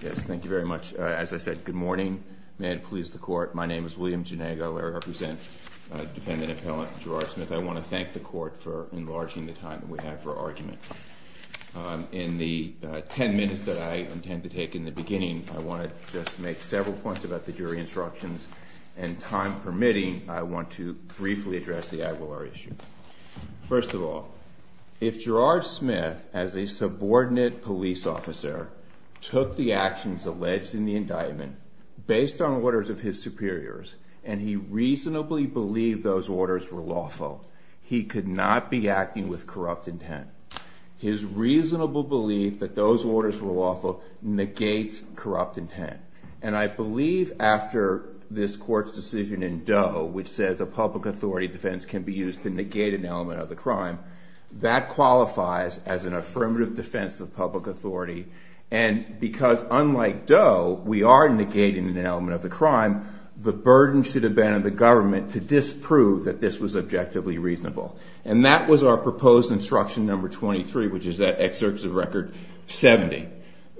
Thank you very much. As I said, good morning. May it please the Court, my name is William Gennagel. I represent the defendant appellant Gerard Smith. I want to thank the Court for enlarging the time that we have for argument. In the ten minutes that I intend to take in the beginning, I want to just make several points about the jury instructions, and time permitting, I want to briefly address the Aguilar issue. First of all, if Gerard Smith as a subordinate police officer took the actions alleged in the indictment based on orders of his superiors, and he reasonably believed those orders were lawful, he could not be acting with corrupt intent. His reasonable belief that those orders were lawful negates corrupt intent. And I believe after this Court's decision in Doe, which says a public authority defense can be used to negate an element of the crime, that qualifies as an affirmative defense of public authority. And because unlike Doe, we are negating an element of the crime, the burden should have been on the government to disprove that this was objectively reasonable. And that was our proposed instruction number 23, which is that excerpt to the record 70.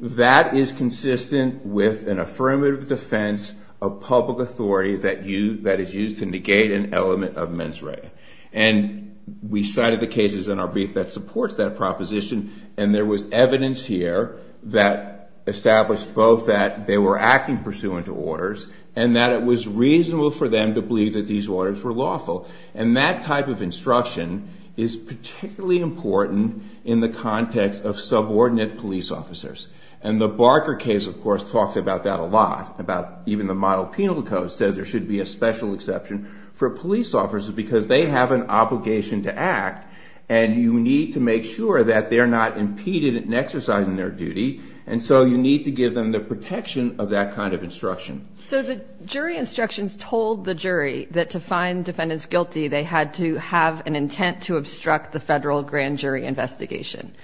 That is consistent with an affirmative defense of public authority that is used to negate an element of mens rea. And we cited the cases in our brief that supports that proposition, and there was evidence here that established both that they were acting pursuant to orders, and that it was reasonable for them to believe that these orders were lawful. And that type of instruction is particularly important in the context of subordinate police officers. And the Barker case, of course, talked about that a lot, about even the model penal code said there should be a special exception for police officers because they have an obligation to act, and you need to make sure that they're not impeded in exercising their duty. And so you need to give them the protection of that kind of instruction. So the jury instructions told the jury that to find defendants guilty, they had to have an intent to obstruct the federal grand jury investigation.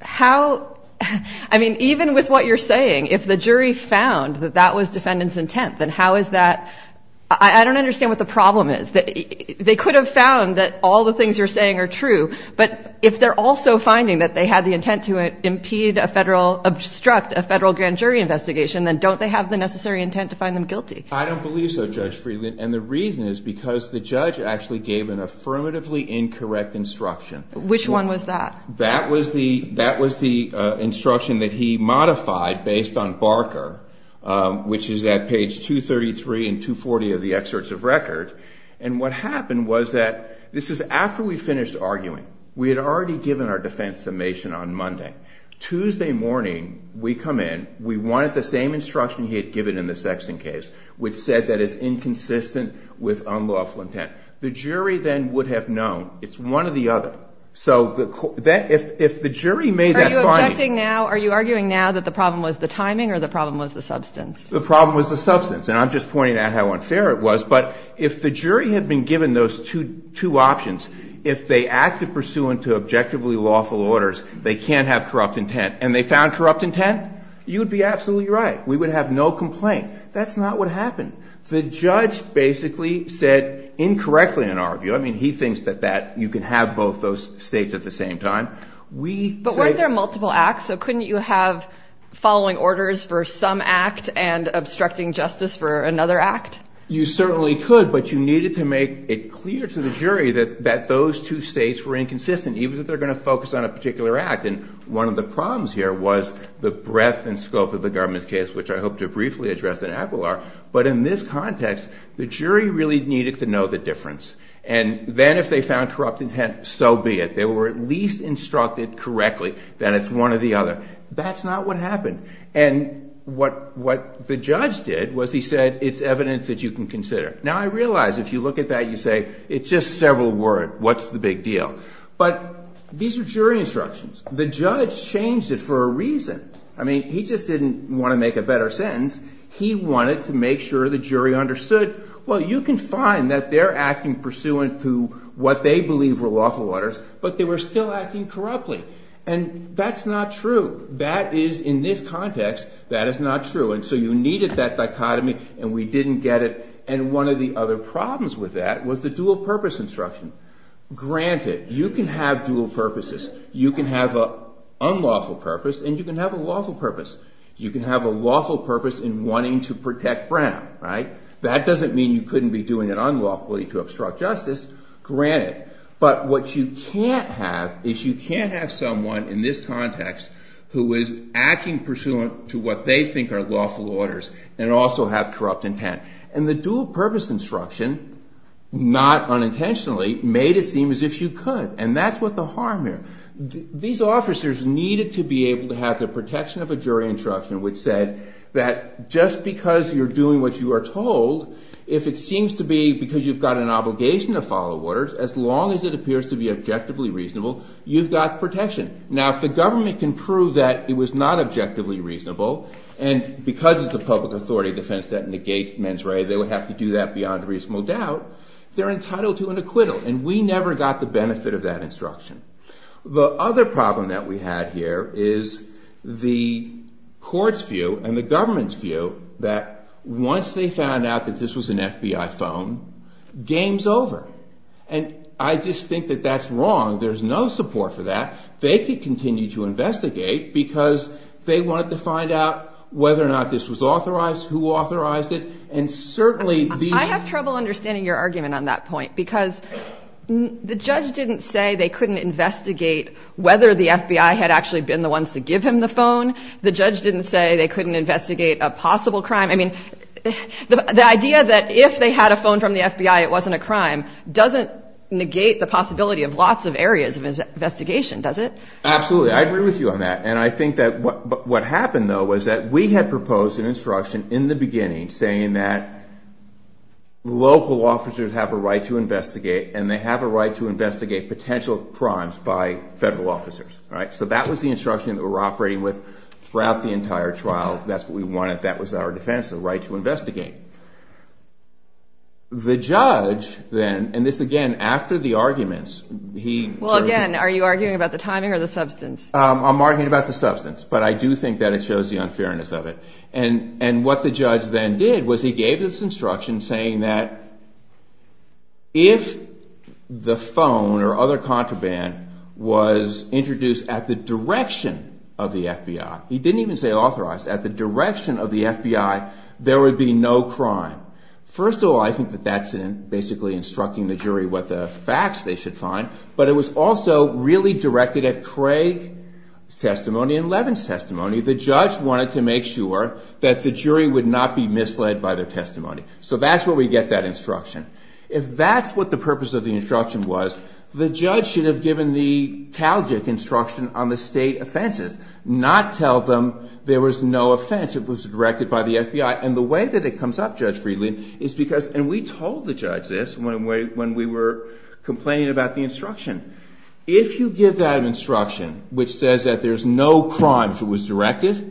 How, I mean, even with what you're saying, if the jury found that that was defendant's intent, then how is that, I don't understand what the problem is. They could have found that all the things you're saying are true, but if they're also finding that they had the intent to impede a federal, obstruct a federal grand jury investigation, then don't they have the necessary intent to find them guilty? I don't believe so, Judge Friedland, and the reason is because the judge actually gave an affirmatively incorrect instruction. Which one was that? That was the instruction that he modified based on Barker, which is at page 233 and 240 of the excerpts of record, and what happened was that, this is after we finished arguing. We had already given our defense summation on Monday. Tuesday morning, we come in, we wanted the same instruction he had given in the Sexton case, which said that it's inconsistent with unlawful intent. The jury then would have known. It's one or the other. So, if the jury made that finding... Are you arguing now that the problem was the timing or the problem was the substance? The problem was the substance, and I'm just pointing out how unfair it was, but if the jury had been given those two options, if they acted pursuant to objectively lawful orders, they can't have corrupt intent, and they found corrupt intent, you'd be absolutely right. We would have no complaint. That's not what happened. The judge basically said incorrectly in our view. I mean, he thinks that you can have both those states at the same time. But weren't there multiple acts? So, couldn't you have following orders for some act and obstructing justice for another act? You certainly could, but you needed to make it clear to the jury that those two states were inconsistent, even if they're going to focus on a particular act, and one of the breadth and scope of the government's case, which I hope to briefly address in APPLR, but in this context, the jury really needed to know the difference, and then if they found corrupt intent, so be it. They were at least instructed correctly that it's one or the other. That's not what happened, and what the judge did was he said, it's evidence that you can consider. Now, I realize if you look at that, you say, it's just several words. What's the big deal? But these are jury instructions. The judge changed it for a reason. I mean, he just didn't want to make a better sentence. He wanted to make sure the jury understood, well, you can find that they're acting pursuant to what they believe were lawful orders, but they were still acting corruptly, and that's not true. That is, in this context, that is not true, and so you needed that dichotomy, and we didn't get it, and one of the other problems with that was the dual purpose instruction. Granted, you can have dual purposes. You can have an unlawful purpose, and you can have a lawful purpose. You can have a lawful purpose in wanting to protect Brown, right? That doesn't mean you couldn't be doing it unlawfully to obstruct justice, granted, but what you can't have is you can't have someone in this context who is acting pursuant to what they think are lawful orders and also have corrupt intent, and the dual purpose instruction, not unintentionally, made it seem as if you could, and that's what the harm here. These officers needed to be able to have the protection of a jury instruction which said that just because you're doing what you are told, if it seems to be because you've got an obligation to follow orders, as long as it appears to be objectively reasonable, you've got protection. Now, if the government can prove that it was not objectively reasonable, and because it's a public authority defense that negates mens rea, they would have to do that beyond reasonable doubt, they're entitled to an acquittal, and we never got the benefit of that instruction. The other problem that we had here is the court's view and the government's view that once they found out that this was an FBI phone, game's over, and I just think that that's wrong. There's no support for that. They could continue to investigate because they wanted to find out whether or not this was authorized, who authorized it, and certainly... I have trouble understanding your argument on that point because the judge didn't say they couldn't investigate whether the FBI had actually been the ones to give him the phone. The judge didn't say they couldn't investigate a possible crime. I mean, the idea that if they had a phone from the FBI it wasn't a crime doesn't negate the possibility of lots of areas of investigation, does it? Absolutely. I agree with you on that, and I think that what happened, though, was that we had proposed an instruction in the beginning saying that local officers have a right to investigate and they have a right to investigate potential crimes by federal officers, right? So that was the instruction that we were operating with throughout the entire trial. That's what we wanted. That was our defense, the right to investigate. The judge then, and this again after the arguments, he... Well, again, are you arguing about the timing or the substance? I'm arguing about the substance, but I do think that it shows the unfairness of it. And what the judge then did was he gave this instruction saying that if the phone or other contraband was introduced at the direction of the FBI, he didn't even say authorized, at the direction of the FBI, there would be no crime. First of all, I think that that's basically instructing the jury what the facts they should find, but it was also really directed at Craig's testimony and Levin's testimony. The judge wanted to make sure that the jury would not be misled by the testimony. So that's where we get that instruction. If that's what the purpose of the instruction was, the judge should have given the CalGIF instruction on the state offenses, not tell them there was no offense, it was directed by the FBI. And the way that it comes up, Judge Friedland, is because... And we told the judge this when we were complaining about the instruction. If you give that instruction, which says that there's no crime if it was directed,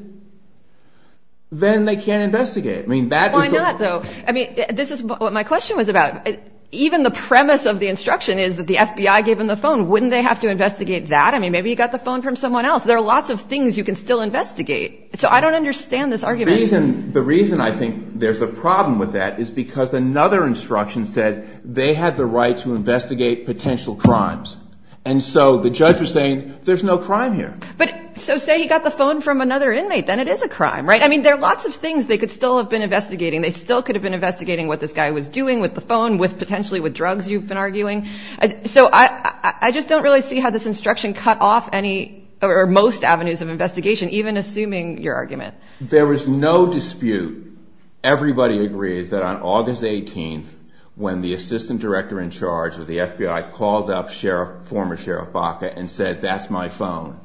then they can't investigate. I mean, that's... Why not, though? I mean, this is what my question was about. Even the premise of the instruction is that the FBI gave him the phone. Wouldn't they have to investigate that? I mean, maybe he got the phone from someone else. There are lots of things you can still investigate. So I don't understand this argument. The reason I think there's a problem with that is because another instruction said they had the right to investigate potential crimes. And so the judge was saying, there's no crime here. But, so say he got the phone from another inmate, then it is a crime, right? I mean, there are lots of things they could still have been investigating. They still could have been investigating what this guy was doing with the phone, with potentially with drugs you've been arguing. So I just don't really see how this instruction cut off any or most avenues of investigation, even assuming your argument. There was no dispute. Everybody agrees that on August 18th, when the assistant director in charge of the FBI called up Sheriff, former Sheriff Baca and said, that's my phone.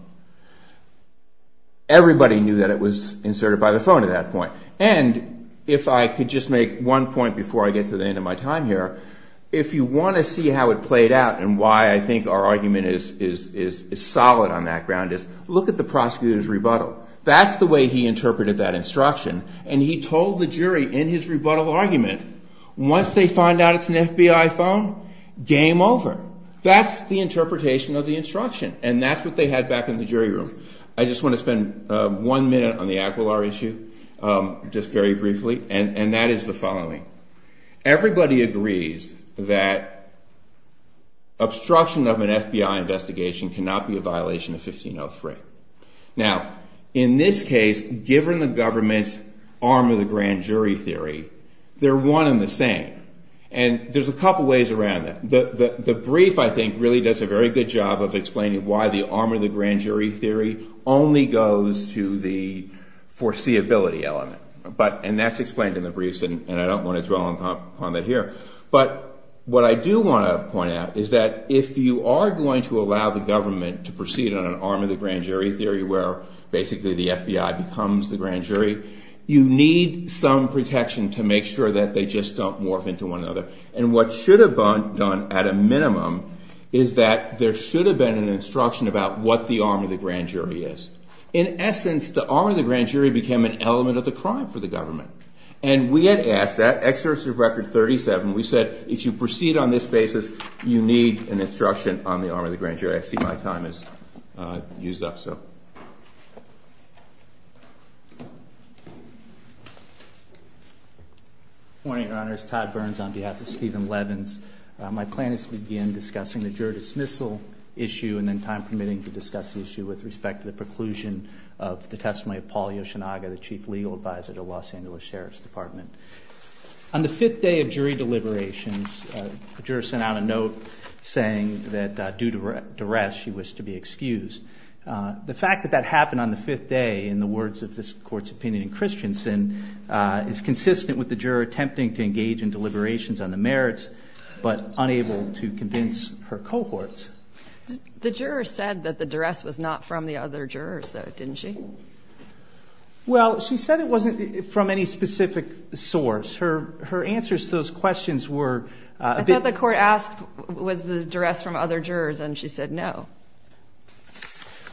Everybody knew that it was inserted by the phone at that point. And if I could just make one point before I get to the end of my time here, if you want to see how it played out and why I think our argument is solid on that ground is, look at the prosecutor's rebuttal. That's the way he interpreted that instruction. And he told the jury in his rebuttal argument, once they find out it's an FBI phone, game over. That's the interpretation of the instruction. And that's what they had back in the jury room. I just want to spend one minute on the Aquilar issue, just very briefly. And that is the following. Everybody agrees that obstruction of an FBI investigation cannot be a violation of 1503. Now, in this case, given the government's arm of the grand jury theory, they're one and the same. And there's a couple of ways around it. The brief, I think, really does a very good job of explaining why the arm of the grand jury theory only goes to the foreseeability element. And that's explained in the briefs, and I don't want to dwell on that here. But what I do want to point out is that if you are going to allow the government to proceed on an arm of the grand jury theory, where basically the FBI becomes the grand jury, you need some protection to make sure that they just don't morph into one another. And what should have been done, at a minimum, is that there should have been an instruction about what the arm of the grand jury is. In essence, the arm of the grand jury became an element of the crime for the government. And we had asked that, exercise of record 37, we said, if you proceed on this basis, you need an instruction on the arm of the grand jury. I see my time has used up, so. Good morning, Your Honors. Todd Burns on behalf of Stephen Levins. My plan is to begin discussing the jury dismissal issue and then time permitting to discuss the issue with respect to the preclusion of the testimony of Paul Yoshinaga, the Chief Legal Advisor to the Los Angeles Sheriff's Department. On the fifth day of jury deliberations, the juror sent out a note saying that due to duress, she was to be excused. The fact that that happened on the fifth day, in the words of this court's opinion in Christensen, is consistent with the juror attempting to engage in deliberations on the merits, but unable to convince her cohorts. The juror said that the duress was not from the other jurors, though, didn't she? Well, she said it wasn't from any specific source. Her answers to those questions were... I thought the court asked, was the duress from other jurors, and she said no.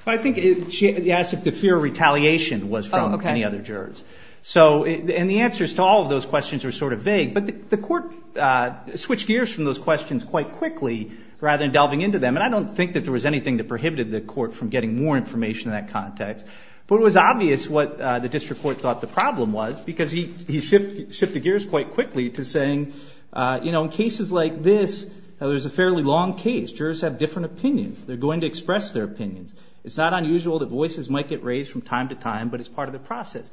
I think she asked if the fear of retaliation was from any other jurors. So, and the answers to all of those questions were sort of vague, but the court switched gears from those questions quite quickly, rather than delving into them, and I don't think that there was anything that prohibited the court from getting more context. But it was obvious what the district court thought the problem was, because he shifted gears quite quickly to saying, you know, in cases like this, there's a fairly long case. Jurors have different opinions. They're going to express their opinions. It's not unusual that voices might get raised from time to time, but it's part of the process.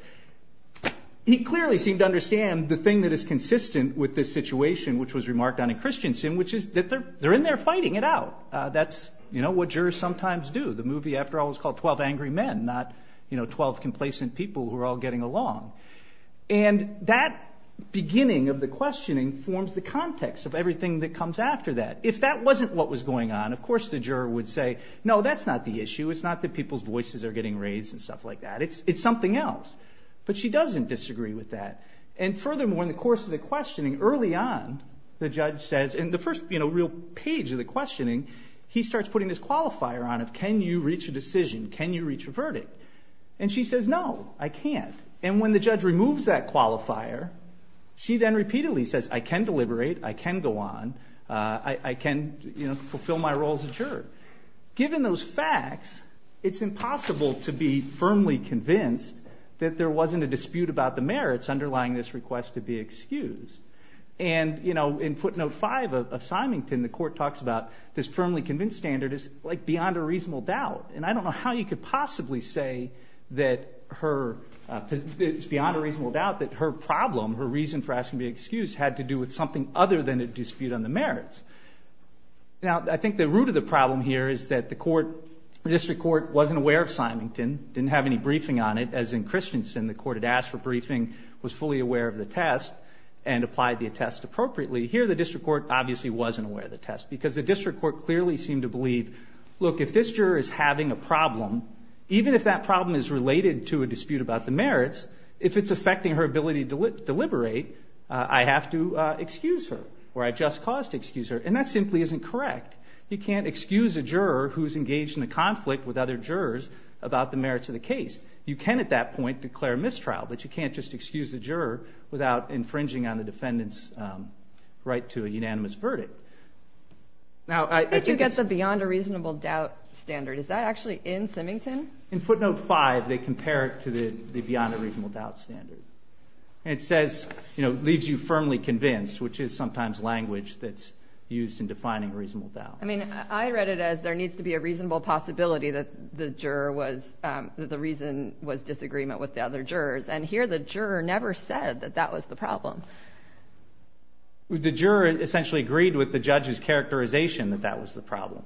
He clearly seemed to understand the thing that is consistent with this situation, which was remarked on in Christensen, which is that they're in there fighting it out. That's, you know, what jurors sometimes do. The movie, after all, is called 12 Angry Men, not, you know, 12 complacent people who are all getting along. And that beginning of the questioning forms the context of everything that comes after that. If that wasn't what was going on, of course, the juror would say, no, that's not the issue. It's not that people's voices are getting raised and stuff like that. It's something else. But she doesn't disagree with that. And furthermore, in the course of the questioning, early on, the judge says, in the first real page of the questioning, he starts putting this qualifier on it. Can you reach a decision? Can you reach a verdict? And she says, no, I can't. And when the judge removes that qualifier, she then repeatedly says, I can deliberate. I can go on. I can fulfill my role as a juror. Given those facts, it's impossible to be firmly convinced that there wasn't a dispute about the merits underlying this request to be excused. And, you know, in footnote five of Symington, the court talks about this firmly convinced standard is like beyond a reasonable doubt. And I don't know how you could possibly say that it's beyond a reasonable doubt that her problem, her reason for asking to be excused, had to do with something other than a dispute on the merits. Now, I think the root of the problem here is that the court, the district court, wasn't aware of Symington, didn't have any briefing on it. As in Christensen, the court had was fully aware of the test and applied the test appropriately. Here, the district court obviously wasn't aware of the test, because the district court clearly seemed to believe, look, if this juror is having a problem, even if that problem is related to a dispute about the merits, if it's affecting her ability to deliberate, I have to excuse her or I just cause to excuse her. And that simply isn't correct. You can't excuse a juror who's engaged in a conflict with other jurors. You can't just excuse a juror without infringing on the defendant's right to a unanimous verdict. Now, I think... I think you get the beyond a reasonable doubt standard. Is that actually in Symington? In footnote five, they compare it to the beyond a reasonable doubt standard. And it says, you know, leads you firmly convinced, which is sometimes language that's used in defining reasonable doubt. I mean, I read it as there needs to be a reasonable possibility that the juror was... that the reason was disagreement with the other jurors. And here, the juror never said that that was the problem. The juror essentially agreed with the judge's characterization that that was the problem.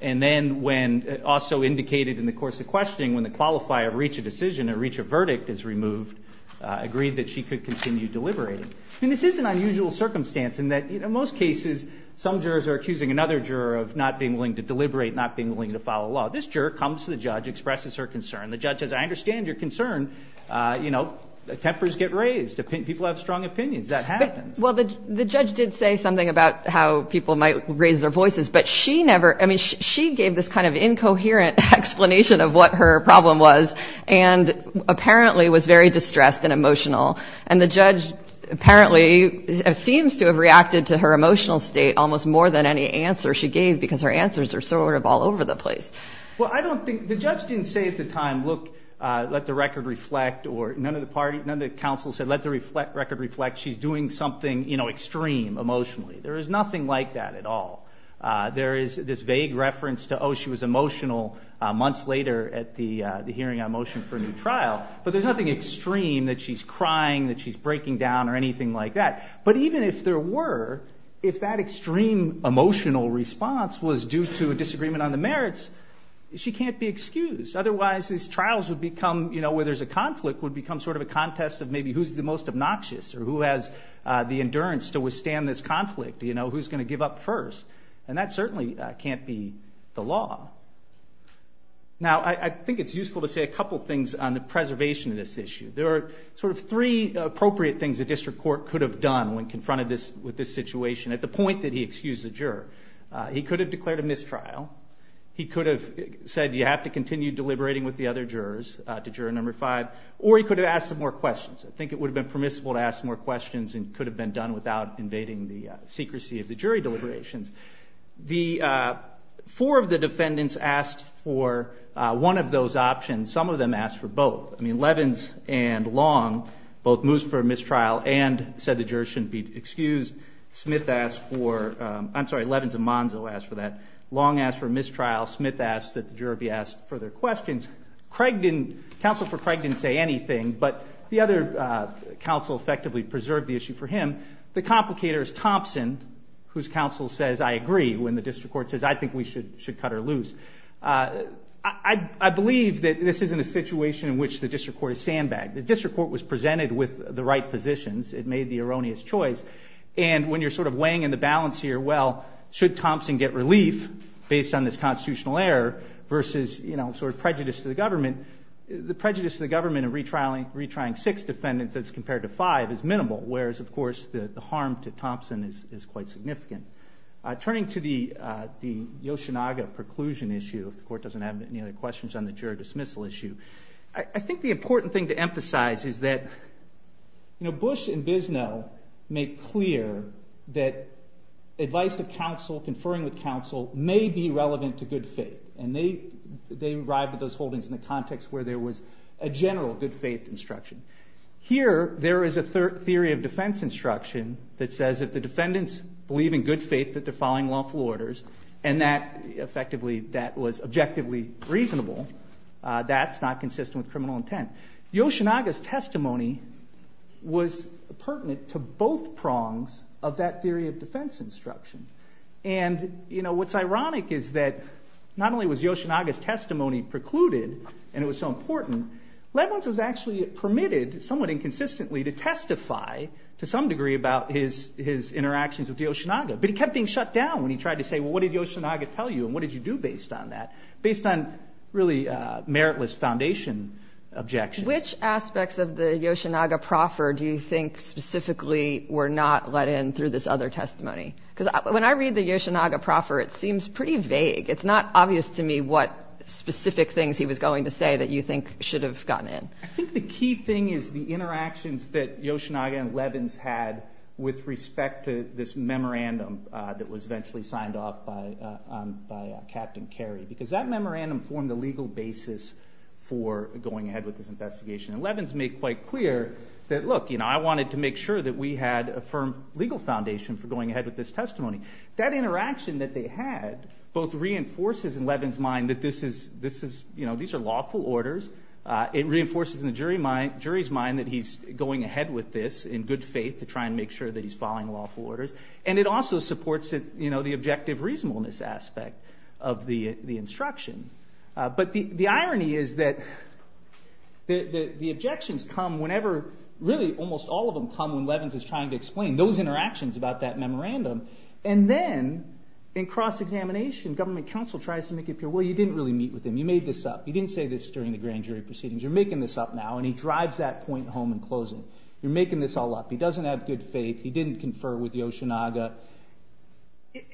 And then when also indicated in the course of questioning, when the qualifier reached a decision and reached a verdict is removed, agreed that she could continue deliberating. And this is an unusual circumstance in that, in most cases, some jurors are accusing another juror of not being willing to deliberate, not being willing to follow law. This juror comes to the judge, expresses her concern. The judge says, I understand your concern. You know, tempers get raised. People have strong opinions. That happens. Well, the judge did say something about how people might raise their voices, but she never... I mean, she gave this kind of incoherent explanation of what her problem was, and apparently was very distressed and emotional. And the judge apparently seems to have reacted to her emotional state almost more than any answer she gave, because her answers are sort of all over the place. Well, I don't think... the judge didn't say at the time, look, let the record reflect, or none of the party... none of the counsel said, let the record reflect she's doing something, you know, extreme emotionally. There is nothing like that at all. There is this vague reference to, oh, she was emotional months later at the hearing on motion for a new trial, but there's nothing extreme that she's crying, that she's breaking down, or anything like that. But even if there were, if that extreme emotional response was due to a disagreement on the merits, she can't be excused. Otherwise, these trials would become, you know, where there's a conflict, would become sort of a contest of maybe who's the most obnoxious, or who has the endurance to withstand this conflict, you know, who's going to give up first. And that certainly can't be the law. Now, I think it's useful to say a couple things on when confronted with this situation, at the point that he excused the juror. He could have declared a mistrial. He could have said, you have to continue deliberating with the other jurors, to juror number five, or he could have asked some more questions. I think it would have been permissible to ask more questions, and could have been done without invading the secrecy of the jury deliberations. The four of the defendants asked for one of those options. Some of them asked for both. I mean, Levins and Long both moved for a mistrial and said the juror shouldn't be excused. Smith asked for, I'm sorry, Levins and Monzo asked for that. Long asked for a mistrial. Smith asked that the juror be asked further questions. Craig didn't, counsel for Craig didn't say anything, but the other counsel effectively preserved the issue for him. The complicator is Thompson, whose counsel says, I agree, when the district court says, I think we should cut her loose. I believe that this isn't a situation in which the district court is sandbagged. The district court was presented with the right positions. It made the erroneous choice. And when you're sort of weighing in the balance here, well, should Thompson get relief based on this constitutional error versus, you know, sort of prejudice to the government, the prejudice to the government of retrying six defendants as compared to five is minimal, whereas, of course, the harm to Thompson is quite significant. Turning to the Yoshinaga preclusion issue, if the court doesn't have any other questions on the juror dismissal issue, I think the important thing to emphasize is that, you know, Bush and Bisno make clear that advice of counsel, conferring with counsel may be relevant to good faith. And they arrived at those holdings in the context where there was a general good faith instruction. Here, there is a theory of defense instruction that says that the defendants believe in good faith that defying lawful orders, and that effectively, that was objectively reasonable. That's not consistent with criminal intent. Yoshinaga's testimony was pertinent to both prongs of that theory of defense instruction. And, you know, what's ironic is that not only was actually permitted, somewhat inconsistently, to testify to some degree about his interactions with the Yoshinaga, but he kept being shut down when he tried to say, well, what did Yoshinaga tell you, and what did you do based on that, based on really meritless foundation objection. Which aspects of the Yoshinaga proffer do you think specifically were not let in through this other testimony? Because when I read the Yoshinaga proffer, it seems pretty vague. It's not obvious to me what specific things he was going to say that you think should have gotten in. I think the key thing is the interactions that Yoshinaga and Levins had with respect to this memorandum that was eventually signed off by Captain Carey, because that memorandum formed the legal basis for going ahead with this investigation. And Levins made quite clear that, look, you know, I wanted to make sure that we had a firm legal foundation for going ahead with this testimony. That interaction that they had both reinforces in Levins' mind that this is, this is, you know, these are lawful orders. It reinforces in the jury's mind that he's going ahead with this in good faith to try and make sure that he's following lawful orders. And it also supports, you know, the objective reasonableness aspect of the instruction. But the irony is that the objections come whenever really almost all of them come when And then, in cross-examination, government counsel tries to make it clear, well, you didn't really meet with him. You made this up. You didn't say this during the grand jury proceedings. You're making this up now, and he drives that point home in closing. You're making this all up. He doesn't have good faith. He didn't confer with Yoshinaga.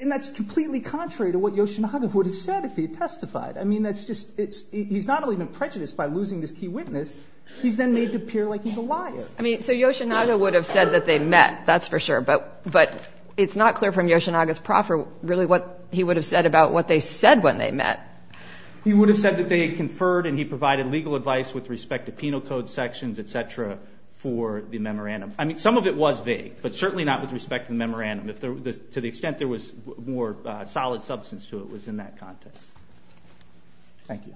And that's completely contrary to what Yoshinaga would have said if he had testified. I mean, that's just, it's, he's not only been prejudiced by losing this key witness, he's then made to appear like he's a liar. I mean, so Yoshinaga would have said that they met, that's for sure. But, but it's not clear from Yoshinaga's proffer really what he would have said about what they said when they met. He would have said that they conferred, and he provided legal advice with respect to penal code sections, et cetera, for the memorandum. I mean, some of it was vague, but certainly not with respect to the memorandum. To the extent there was more solid substance to it was in that context. Thank you.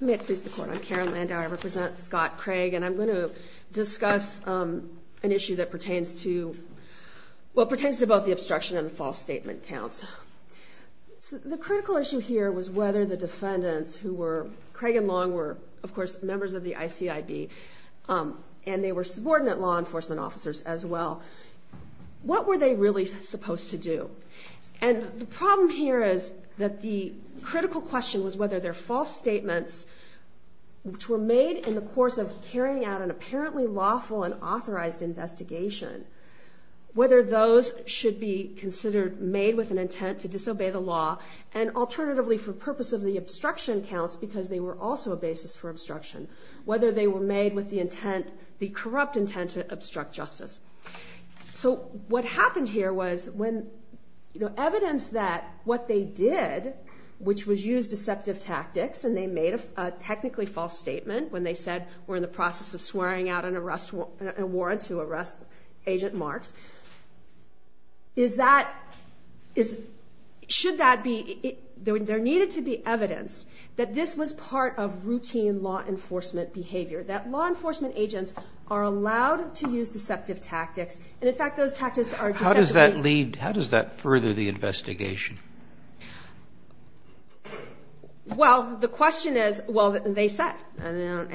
Let me ask for your support. I'm Karen Landau. I represent Scott Craig, and I'm going to discuss an issue that pertains to, well, pertains to both the obstruction and the false statement count. The critical issue here was whether the defendants who were, Craig and Long were, of course, members of the ICID, and they were subordinate law enforcement officers as well. What were they really supposed to do? And the problem here is that the critical question was whether their false statements, which were made in the course of carrying out an apparently lawful and authorized investigation, whether those should be considered made with an intent to disobey the law, and alternatively, for purpose of the obstruction counts, because they were also a basis for obstruction, whether they were made with the intent, the corrupt intent to obstruct justice. So what happened here was when the evidence that what they did, which was use deceptive tactics, and they made a technically false statement when they said we're in the process of swearing out an arrest warrant to arrest Agent Mark, is that, should that be, there needed to be evidence that this was part of routine law enforcement behavior, that law enforcement agents are allowed to use deceptive tactics, and in fact, those tactics are... How does that lead, how does that further the investigation? Well, the question is, well, they said, and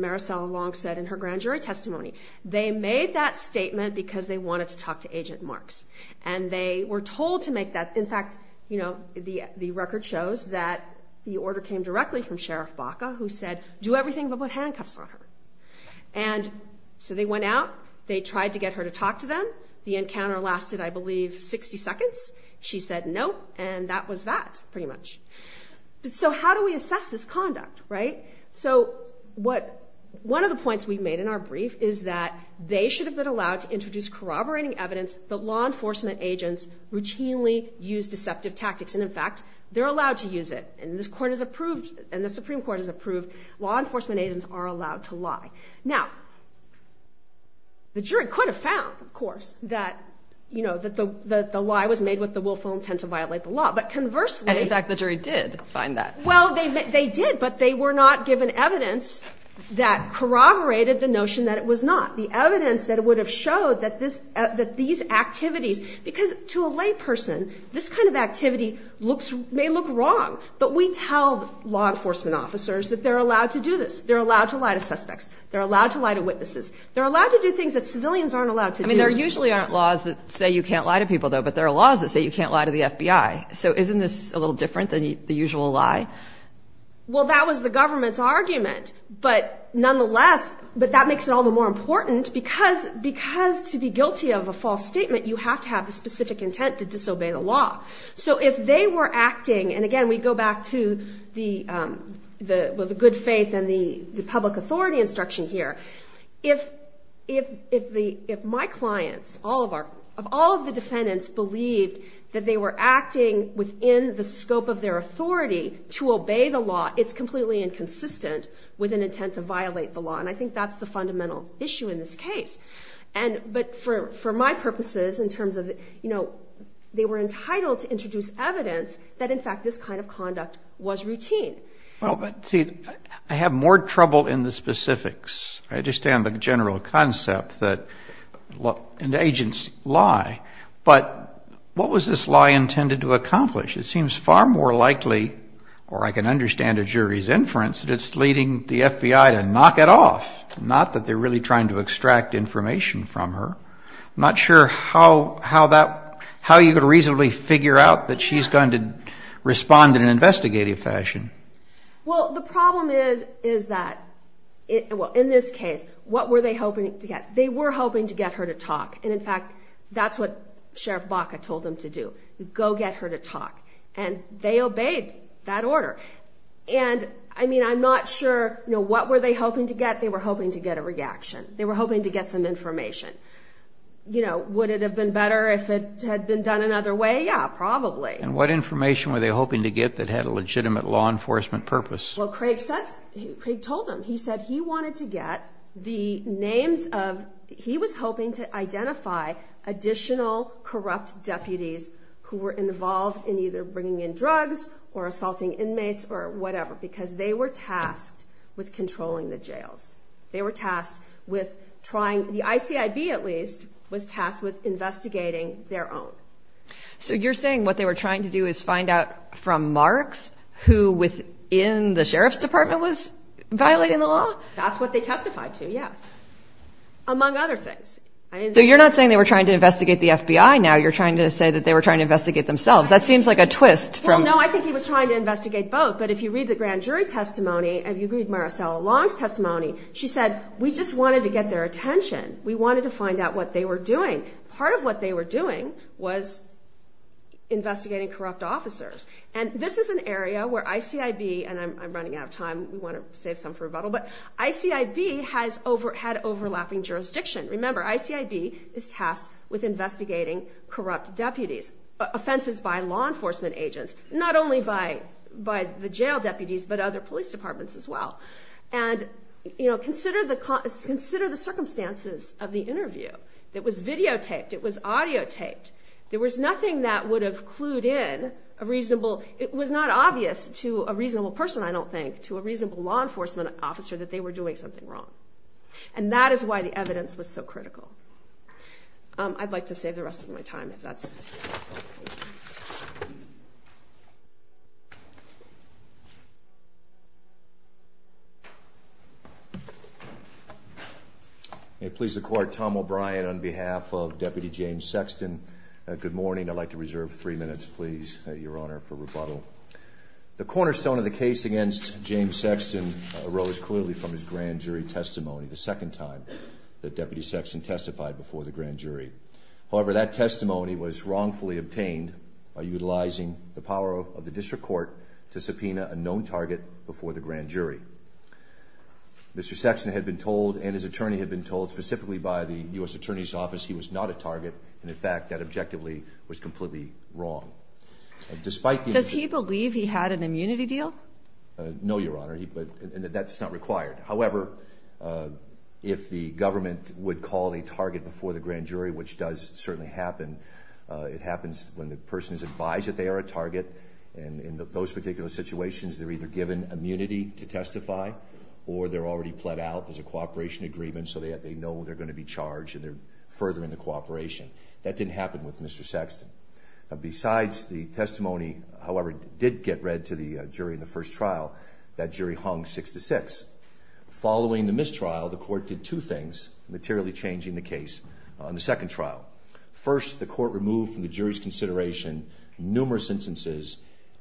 Maricel Long said in her grand jury testimony, they made that statement because they wanted to talk to Agent Marks, and they were told to make that. In fact, you know, the record shows that the order came directly from Sheriff Baca, who said, do everything but put handcuffs on her. And so they went out, they tried to get her to talk to them. The encounter lasted, I believe, 60 seconds. She said no, and that was that, pretty much. So how do we assess this conduct, right? So what, one of the points we've made in our brief is that they should have been allowed to introduce corroborating evidence that law enforcement agents routinely use deceptive tactics, and in fact, they're allowed to use it, and this is approved, law enforcement agents are allowed to lie. Now, the jury could have found, of course, that, you know, that the lie was made with the willful intent to violate the law, but conversely... And in fact, the jury did find that. Well, they did, but they were not given evidence that corroborated the notion that it was not. The evidence that it would have showed that these activities, because to a layperson, this kind of activity may look wrong, but we tell law enforcement officers that they're allowed to do this. They're allowed to lie to suspects. They're allowed to lie to witnesses. They're allowed to do things that civilians aren't allowed to do. I mean, there usually aren't laws that say you can't lie to people, though, but there are laws that say you can't lie to the FBI. So isn't this a little different than the usual lie? Well, that was the government's argument, but nonetheless, but that makes it all the more important because to be guilty of a false statement, you have to have a specific intent to disobey the law. So if they were acting, and again, we go back to the good faith and the public authority instruction here. If my clients, all of the defendants believed that they were acting within the scope of their authority to obey the law, it's completely inconsistent with an intent to violate the law, and I think that's the fundamental issue in this case. But for my purposes, in terms of, you know, they were entitled to introduce evidence that, in fact, this kind of conduct was routine. Well, but see, I have more trouble in the specifics. I understand the general concept that agents lie, but what was this lie intended to accomplish? It seems far more likely, or I can understand a jury's inference, that it's leading the FBI to knock it off, not that they're really trying to extract information from her. I'm not sure how you could reasonably figure out that she's going to respond in an investigative fashion. Well, the problem is that, well, in this case, what were they hoping to get? They were hoping to get her to talk, and in fact, that's what Sheriff Baca told them to do, go get her to talk, and they obeyed that order, and I mean, I'm not sure, you know, what were they hoping to get? They were hoping to get a reaction. They were hoping to get some information. You know, would it have been better if it had been done another way? Yeah, probably. And what information were they hoping to get that had a legitimate law enforcement purpose? Well, Craig said, Craig told them, he said he wanted to get the names of, he was hoping to identify additional corrupt deputies who were involved in either bringing in drugs or assaulting the jail. They were tasked with trying, the ICID at least, was tasked with investigating their own. So you're saying what they were trying to do is find out from Marks who within the Sheriff's Department was violating the law? That's what they testified to, yes, among other things. So you're not saying they were trying to investigate the FBI now, you're trying to say that they were trying to investigate themselves. That seems like a twist. Well, no, I think he was trying to investigate both, but if you read the grand jury testimony, if you read Maricela Long's testimony, she said we just wanted to get their attention. We wanted to find out what they were doing. Part of what they were doing was investigating corrupt officers. And this is an area where ICID, and I'm running out of time, we want to save some for rebuttal, but ICID has had overlapping jurisdiction. Remember, ICID is tasked with investigating corrupt deputies, offenses by law enforcement agents, not only by the jail deputies but other police departments as well. And consider the circumstances of the interview. It was videotaped, it was audiotaped. There was nothing that would have clued in a reasonable, it was not obvious to a reasonable person, I don't think, to a reasonable law enforcement officer that they were doing something wrong. And that is why the evidence was so critical. I'd like to save the rest of my time, if that's okay. May it please the Court, Tom O'Brien on behalf of Deputy James Sexton. Good morning. I'd like to reserve three minutes, please, Your Honor, for rebuttal. The cornerstone of the case against James Sexton arose clearly from his grand jury testimony, the second time that Deputy Sexton testified before the grand jury. However, that testimony was wrongfully obtained by utilizing the power of the District Court to subpoena a known target before the grand jury. Mr. Sexton had been told, and his attorney had been told, specifically by the U.S. Attorney's Office, he was not a target. And in fact, that objectively was completely wrong. Despite the... Does he believe he had an immunity deal? No, Your Honor, that's not required. However, if the government would call a target before the grand jury, which does certainly happen, it happens when the person is advised that they are a target, and in those particular situations, they're either given immunity to testify, or they're already pled out, there's a cooperation agreement, so they know they're going to be charged, and they're further into cooperation. That didn't happen with Mr. Sexton. Besides the testimony, however, did get read to the jury in the first trial. That jury hung six to six. Following the mistrial, the court did two things, materially changing the case on the second trial. First, the court removed from the jury's consideration numerous instances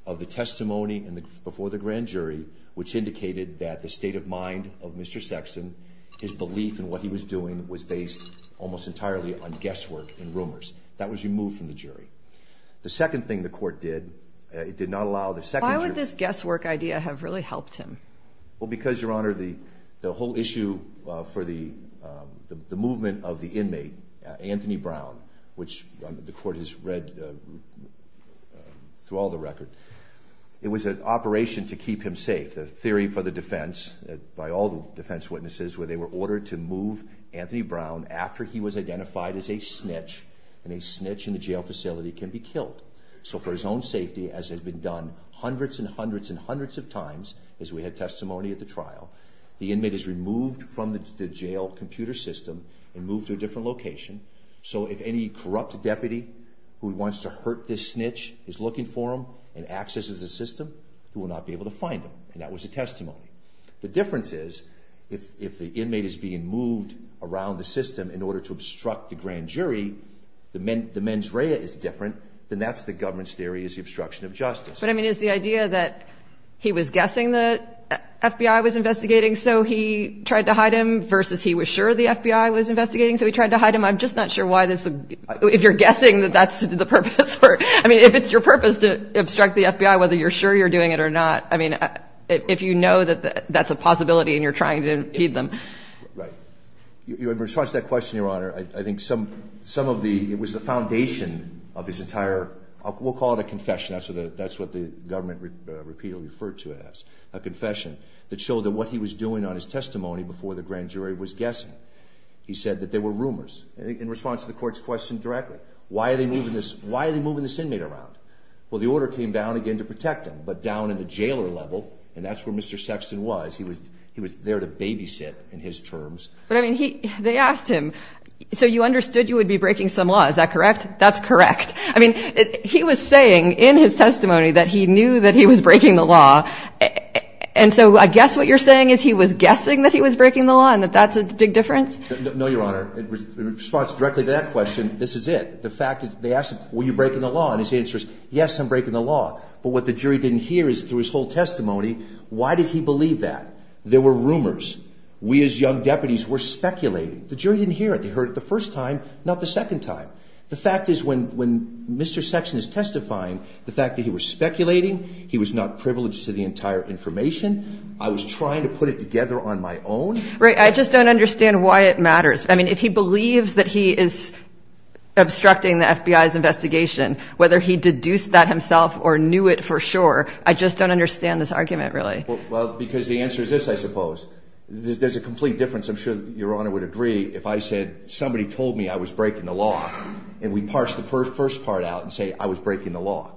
of the testimony before the grand jury, which indicated that the state of mind of Mr. Sexton, his belief in what he was doing, was based almost entirely on guesswork and rumors. That was removed from the jury. The second thing the court did, it did not allow the second... Why would this guesswork idea have really helped him? Well, because, Your Honor, the whole issue for the movement of the inmate, Anthony Brown, which the court has read through all the records, it was an operation to keep him safe, a theory for the defense, by all the defense witnesses, where they were ordered to move So for his own safety, as has been done hundreds and hundreds and hundreds of times, as we had testimony at the trial, the inmate is removed from the jail computer system and moved to a different location. So if any corrupt deputy who wants to hurt this snitch is looking for him and accesses the system, he will not be able to find him. And that was the testimony. The difference is, if the inmate is being moved around the system in order to obstruct the grand And that's the government's theory, is the obstruction of justice. But I mean, is the idea that he was guessing the FBI was investigating, so he tried to hide him, versus he was sure the FBI was investigating, so he tried to hide him? I'm just not sure why this would be... If you're guessing that that's the purpose. I mean, if it's your purpose to obstruct the FBI, whether you're sure you're doing it or not. I mean, if you know that that's a possibility and you're trying to heed them. Right. In response to that question, Your Honor, I think some of the... We'll call it a confession. That's what the government repeal referred to as, a confession that showed that what he was doing on his testimony before the grand jury was guessing. He said that there were rumors. In response to the court's question directly, why are they moving this inmate around? Well, the order came down, again, to protect him. But down in the jailer level, and that's where Mr. Sexton was, he was there to babysit in his terms. But I mean, they asked him, so you understood you would be breaking some law, is that correct? That's correct. I mean, he was saying in his testimony that he knew that he was breaking the law. And so I guess what you're saying is he was guessing that he was breaking the law and that that's a big difference? No, Your Honor. In response directly to that question, this is it. The fact that they asked him, were you breaking the law? And his answer is, yes, I'm breaking the law. But what the jury didn't hear is through his whole testimony, why did he believe that? There were rumors. We as young deputies were speculating. The jury didn't hear it. They The fact is when Mr. Sexton is testifying, the fact that he was speculating, he was not privileged to the entire information. I was trying to put it together on my own. Right. I just don't understand why it matters. I mean, if he believes that he is obstructing the FBI's investigation, whether he deduced that himself or knew it for sure, I just don't understand this argument, really. Well, because the answer is this, I suppose. There's a complete difference. I'm sure Your Honor would agree if I said somebody told me I was breaking the law and we parsed the first part out and say I was breaking the law.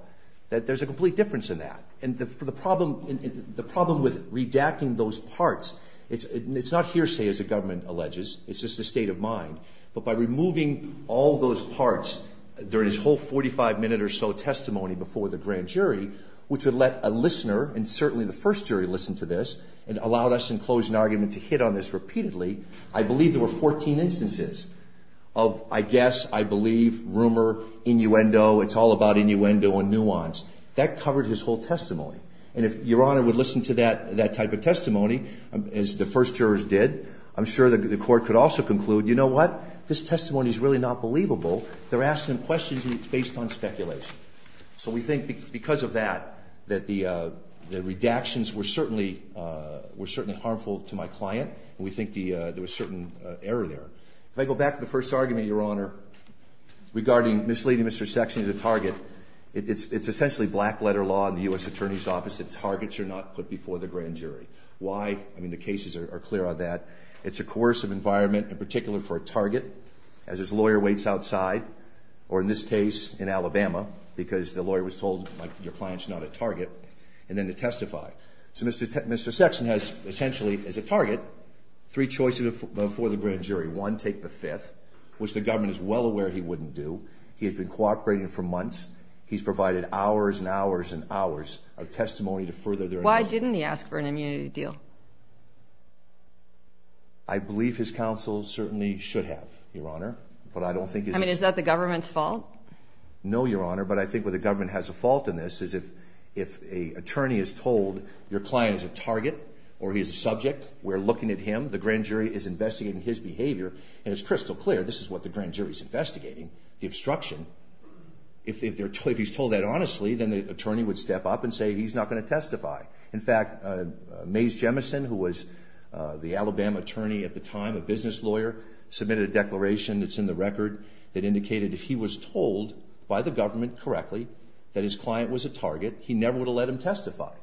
There's a complete difference in that. And the problem with redacting those parts, it's not hearsay, as the government alleges. It's just a state of mind. But by removing all those parts during his whole 45 minute or so testimony before the grand jury, which would let a listener and certainly the first jury listen to this and allow us in closing argument to hit on this repeatedly, I believe there were 14 instances of I guess, I believe, rumor, innuendo, it's all about innuendo and nuance. That covered his whole testimony. And if Your Honor would listen to that type of testimony, as the first jurors did, I'm sure the court could also conclude, you know what? This testimony is really not believable. They're asking questions based on speculation. So we think because of that, that the redactions were certainly harmful to my client. We think there was certain error there. If I go back to the first argument, Your Honor, regarding misleading Mr. Sexton as a target, it's essentially black letter law in the U.S. Attorney's Office that targets are not put before the grand jury. Why? I mean, the cases are clear on that. It's a coercive environment, in particular for a target, as his lawyer waits outside, or in this case, in Alabama, because the lawyer was told, like, your client's not a target, and then to testify. So Mr. Sexton has essentially, as a target, three choices before the grand jury. One, take the fifth, which the government is well aware he wouldn't do. He has been cooperating for months. He's provided hours and hours and hours of testimony to further their... Why didn't he ask for an immunity deal? I believe his counsel certainly should have, Your Honor, but I don't think... I mean, is that the government's fault? No, Your Honor, but I think what the government has a fault in this is if a attorney is told, your client is a target, or he's a subject, we're looking at him, the grand jury is investigating his behavior, and it's crystal clear, this is what the grand jury's investigating, the obstruction. If he's told that honestly, then the attorney would step up and say he's not going to testify. In fact, Mays Jemison, who was the Alabama attorney at the time, a business lawyer, submitted a declaration that's in the record that indicated that he was told by the government correctly that his client was a target. He never would have let him testify.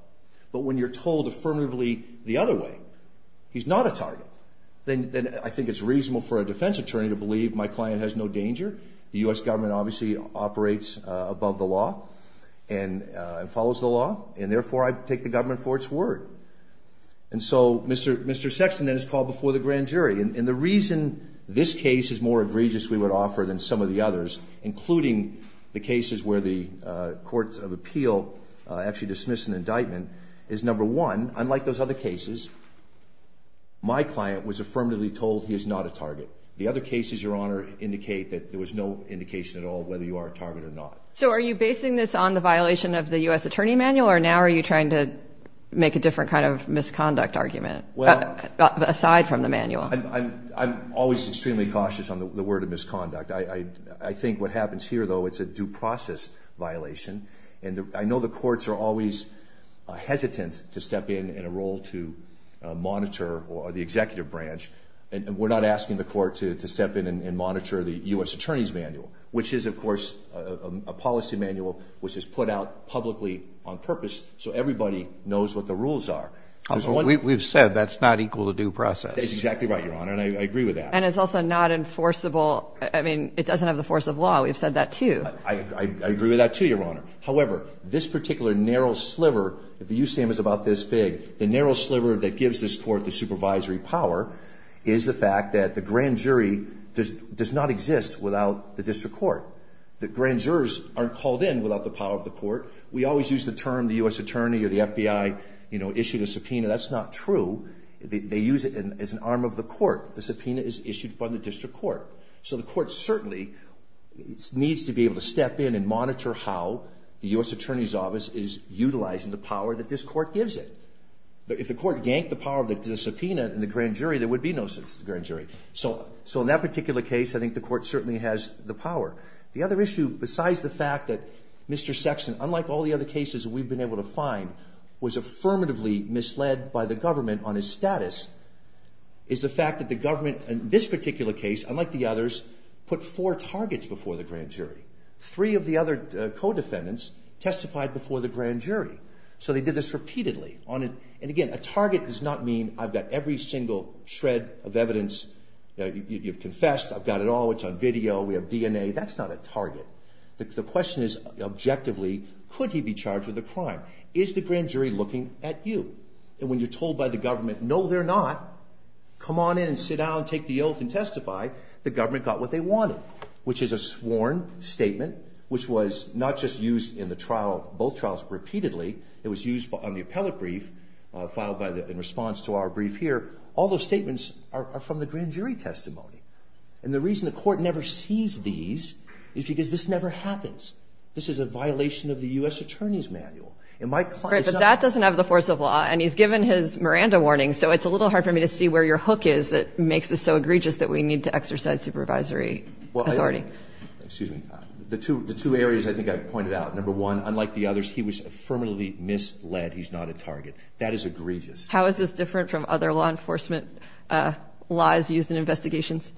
But when you're told affirmatively the other way, he's not a target, then I think it's reasonable for a defense attorney to believe my client has no danger. The U.S. government obviously operates above the law and follows the law, and therefore, I take the government for its word. And so Mr. Sexton then is called before the grand jury. And the reason this case is more egregious, we would offer, than some of the others, including the cases where the courts of appeal actually dismiss an indictment, is number one, unlike those other cases, my client was affirmatively told he is not a target. The other cases, Your Honor, indicate that there was no indication at all whether you are a target or not. So are you basing this on the violation of the U.S. attorney manual, or now are you trying to make a different kind of misconduct argument aside from the manual? I'm always extremely cautious on the word of misconduct. I think what happens here, though, it's a due process violation. And I know the courts are always hesitant to step in in a role to monitor the executive branch. And we're not asking the court to step in and monitor the U.S. attorney's manual, which is, of course, a policy manual which is put out publicly on purpose so everybody knows what the rules are. We've said that's not equal to due process. That's exactly right, Your Honor, and I agree with that. And it's also not enforceable. I mean, it doesn't have the force of law. We've said that, too. I agree with that, too, Your Honor. However, this particular narrow sliver, if the U.S. name is about this big, the narrow sliver that gives this court the supervisory power is the fact that the grand jury does not exist without the district court. The grand jurors aren't called in without the power of the court. We always use the term the U.S. attorney or the arm of the court. The subpoena is issued by the district court. So the court certainly needs to be able to step in and monitor how the U.S. attorney's office is utilizing the power that this court gives it. But if the court yanked the power of the subpoena in the grand jury, there would be no grand jury. So in that particular case, I think the court certainly has the power. The other issue, besides the fact that Mr. Sexton, unlike all the other cases we've been able to find, was affirmatively misled by the government on his status, is the fact that the government in this particular case, unlike the others, put four targets before the grand jury. Three of the other co-defendants testified before the grand jury. So they did this repeatedly. And again, a target does not mean I've got every single shred of evidence. You've confessed. I've got it all. It's on video. We have DNA. That's not a target. The question is, objectively, could he be charged with a crime? Is the grand jury looking at you? And when you're told by the government, no, they're not, come on in, sit down, take the oath, and testify, the government got what they wanted, which is a sworn statement, which was not just used in both trials repeatedly. It was used on the appellate brief filed in response to our brief here. All those statements are from the grand jury testimony. And the reason the court never sees these is because this never happens. This is a violation of the U.S. Attorney's Manual. But that doesn't have the force of law, and he's given his Miranda warning, so it's a little hard for me to see where your hook is that makes this so egregious that we need to exercise supervisory authority. Excuse me. The two areas I think I pointed out, number one, unlike the others, he was affirmatively misled. He's not a target. That is egregious. How is this different from other law enforcement laws used in investigations?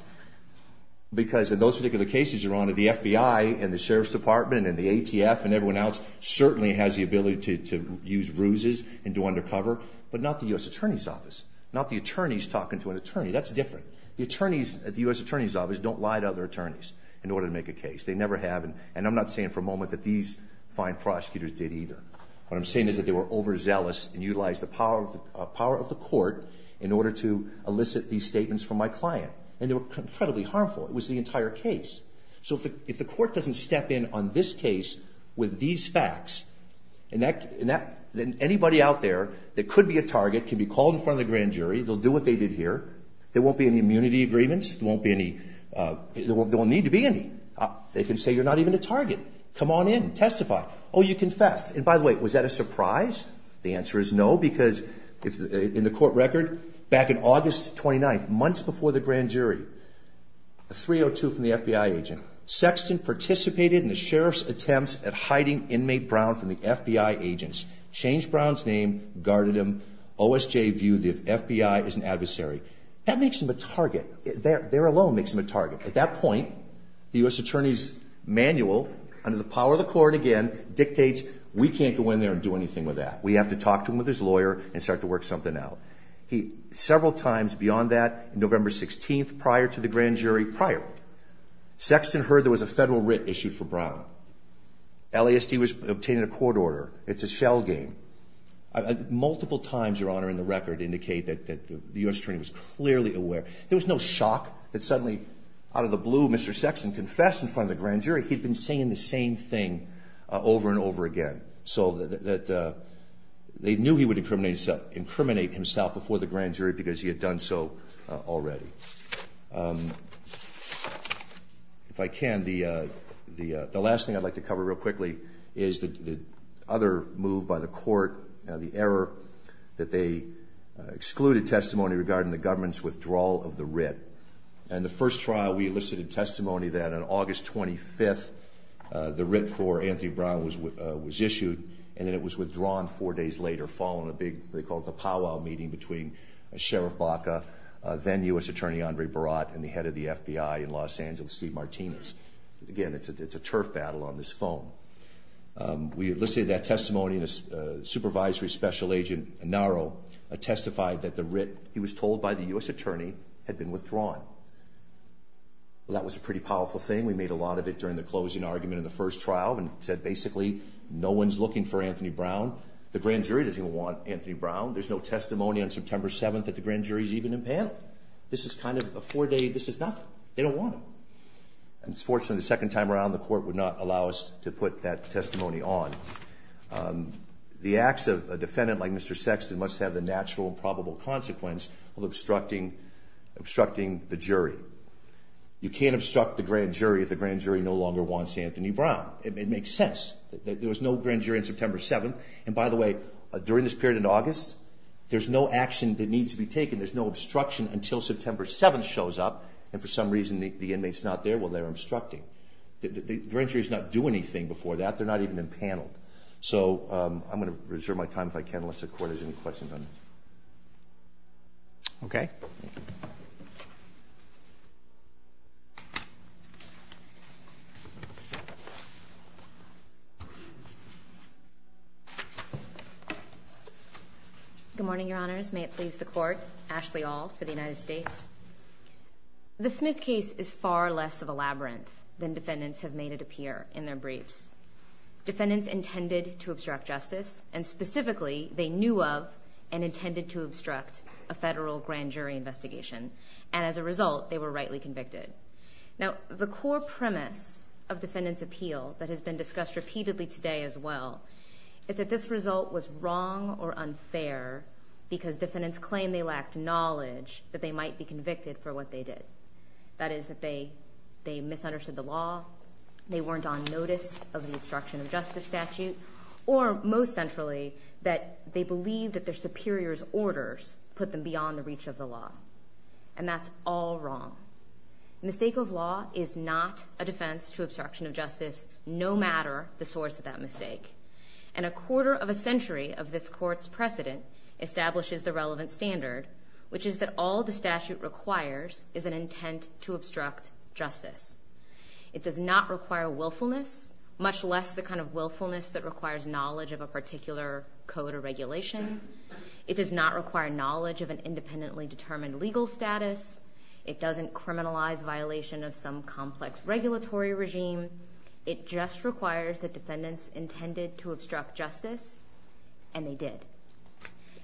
Because in those particular cases, Your Honor, the FBI and the police department and the ATF and everyone else certainly has the ability to use bruises and do undercover, but not the U.S. Attorney's Office. Not the attorneys talking to an attorney. That's different. The U.S. Attorney's Office don't lie to other attorneys in order to make a case. They never have, and I'm not saying for a moment that these fine prosecutors did either. What I'm saying is that they were overzealous and utilized the power of the court in order to elicit these statements from my client. And they were incredibly harmful. It was the entire case. So if the court doesn't step in on this case with these facts, then anybody out there that could be a target can be called in front of the grand jury. They'll do what they did here. There won't be any immunity agreements. There won't need to be any. They can say you're not even a target. Come on in. Testify. Oh, you confessed. And by the way, was that a surprise? The answer is no, because in the court record back in August 29th, months before the grand jury, a 302 from the FBI agent, Sexton participated in the sheriff's attempts at hiding inmate Brown from the FBI agents, changed Brown's name, guarded him, OSJ viewed the FBI as an adversary. That makes him a target. There alone makes him a target. At that point, the U.S. Attorney's manual under the power of the court, again, dictates we can't go in there and do anything with that. We have to talk to him with his lawyer and start to work something out. Several times beyond that, November 16th, prior to the grand jury, prior, Sexton heard there was a federal writ issued for Brown. LASD was obtained in a court order. It's a shell game. Multiple times, Your Honor, in the record indicate that the U.S. Attorney was clearly aware. There was no shock that suddenly, out of the blue, Mr. Sexton confessed in front of the grand jury. He'd been saying the same thing over and over again, so that they knew he would incriminate himself before the grand jury because he had done so already. If I can, the last thing I'd like to cover real quickly is the other move by the court, the error that they excluded testimony regarding the government's withdrawal of the writ. In the first trial, we elicited testimony that on August 25th, the writ for Anthony Brown was issued, and then it was withdrawn four days later following a big, a powwow meeting between Sheriff Baca, then U.S. Attorney Andre Barat, and the head of the FBI in Los Angeles, Steve Martinez. Again, it's a turf battle on this phone. We elicited that testimony, and the supervisory special agent, Naro, testified that the writ he was told by the U.S. Attorney had been withdrawn. That was a pretty powerful thing. We made a lot of it during the closing argument in the first trial and said, basically, no one's looking for Anthony Brown. The grand jury doesn't want Anthony Brown. There's no testimony on September 7th that the grand jury's even impaled. This is kind of a four-day, this is nothing. They don't want him. And fortunately, the second time around, the court would not allow us to put that testimony on. The acts of a defendant like Mr. Sexton must have the natural and probable consequence of obstructing the jury. You can't obstruct the grand jury if the grand jury no longer wants Anthony Brown. It makes sense. There was no grand jury on September 7th. And by the way, during this period in August, there's no action that needs to be taken. There's no obstruction until September 7th shows up, and for some reason, the inmate's not there when they're obstructing. The grand jury's not doing anything before that. They're not even impaneled. So I'm going to reserve my time, if I can, unless the court has any questions on me. Good morning, Your Honors. May it please the Court, Ashley Ault for the United States. The Smith case is far less of a labyrinth than defendants have made it appear in their briefs. Defendants intended to obstruct justice, and specifically, they knew of and intended to obstruct a federal grand jury investigation. And as a result, they were rightly convicted. Now, the core premise of defendants' appeal that has been discussed repeatedly today as well is that this result was wrong or unfair because defendants claimed they lacked knowledge that they might be convicted for what they did. That is, that they misunderstood the law, they weren't on notice of the obstruction of justice statute, or most centrally, that they believed that their superior's orders put them beyond the reach of the law. And that's all wrong. A mistake of law is not a defense to obstruction of justice, no matter the source of that mistake. And a quarter of a century of this Court's precedent establishes the relevant standard, which is that all the statute requires is an intent to obstruct justice. It does not require willfulness, much less the kind of willfulness that requires knowledge of a particular code or regulation. It does not require knowledge of an independently determined legal status. It doesn't criminalize violation of some complex regulatory regime. It just requires that defendants intended to obstruct justice, and they did.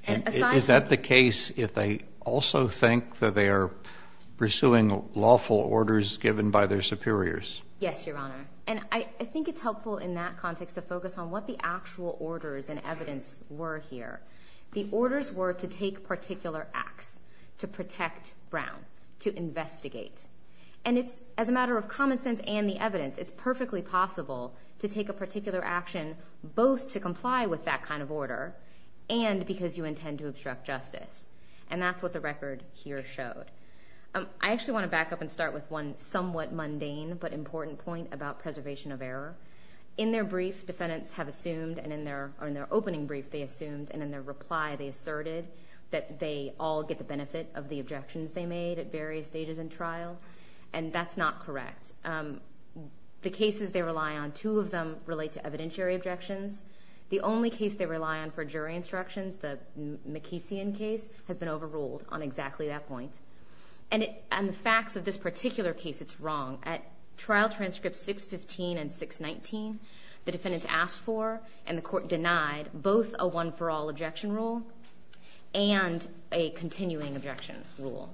And is that the case if they also think that they are pursuing lawful orders given by their superiors? Yes, Your Honor. And I think it's helpful in that context to focus on what the actual orders and evidence were here. The orders were to take particular acts to protect Brown, to investigate. And as a matter of common sense and the evidence, it's perfectly possible to take a particular action both to comply with that kind of order and because you intend to obstruct justice. And that's what the record here showed. I actually want to back up and start with one somewhat mundane but important point about preservation of error. In their briefs, defendants have assumed, or in their opening brief they assumed, and in their reply they asserted that they all get the benefit of the objections they made at various stages in trial. And that's not correct. The cases they rely on, two of them relate to evidentiary objections. The only case they rely on for jury instructions, the McKesson case, has been overruled on exactly that point. And the fact of this particular case is wrong. At trial transcripts 615 and 619, the defendants asked for and the court denied both a one-for-all objection rule and a continuing objection rule.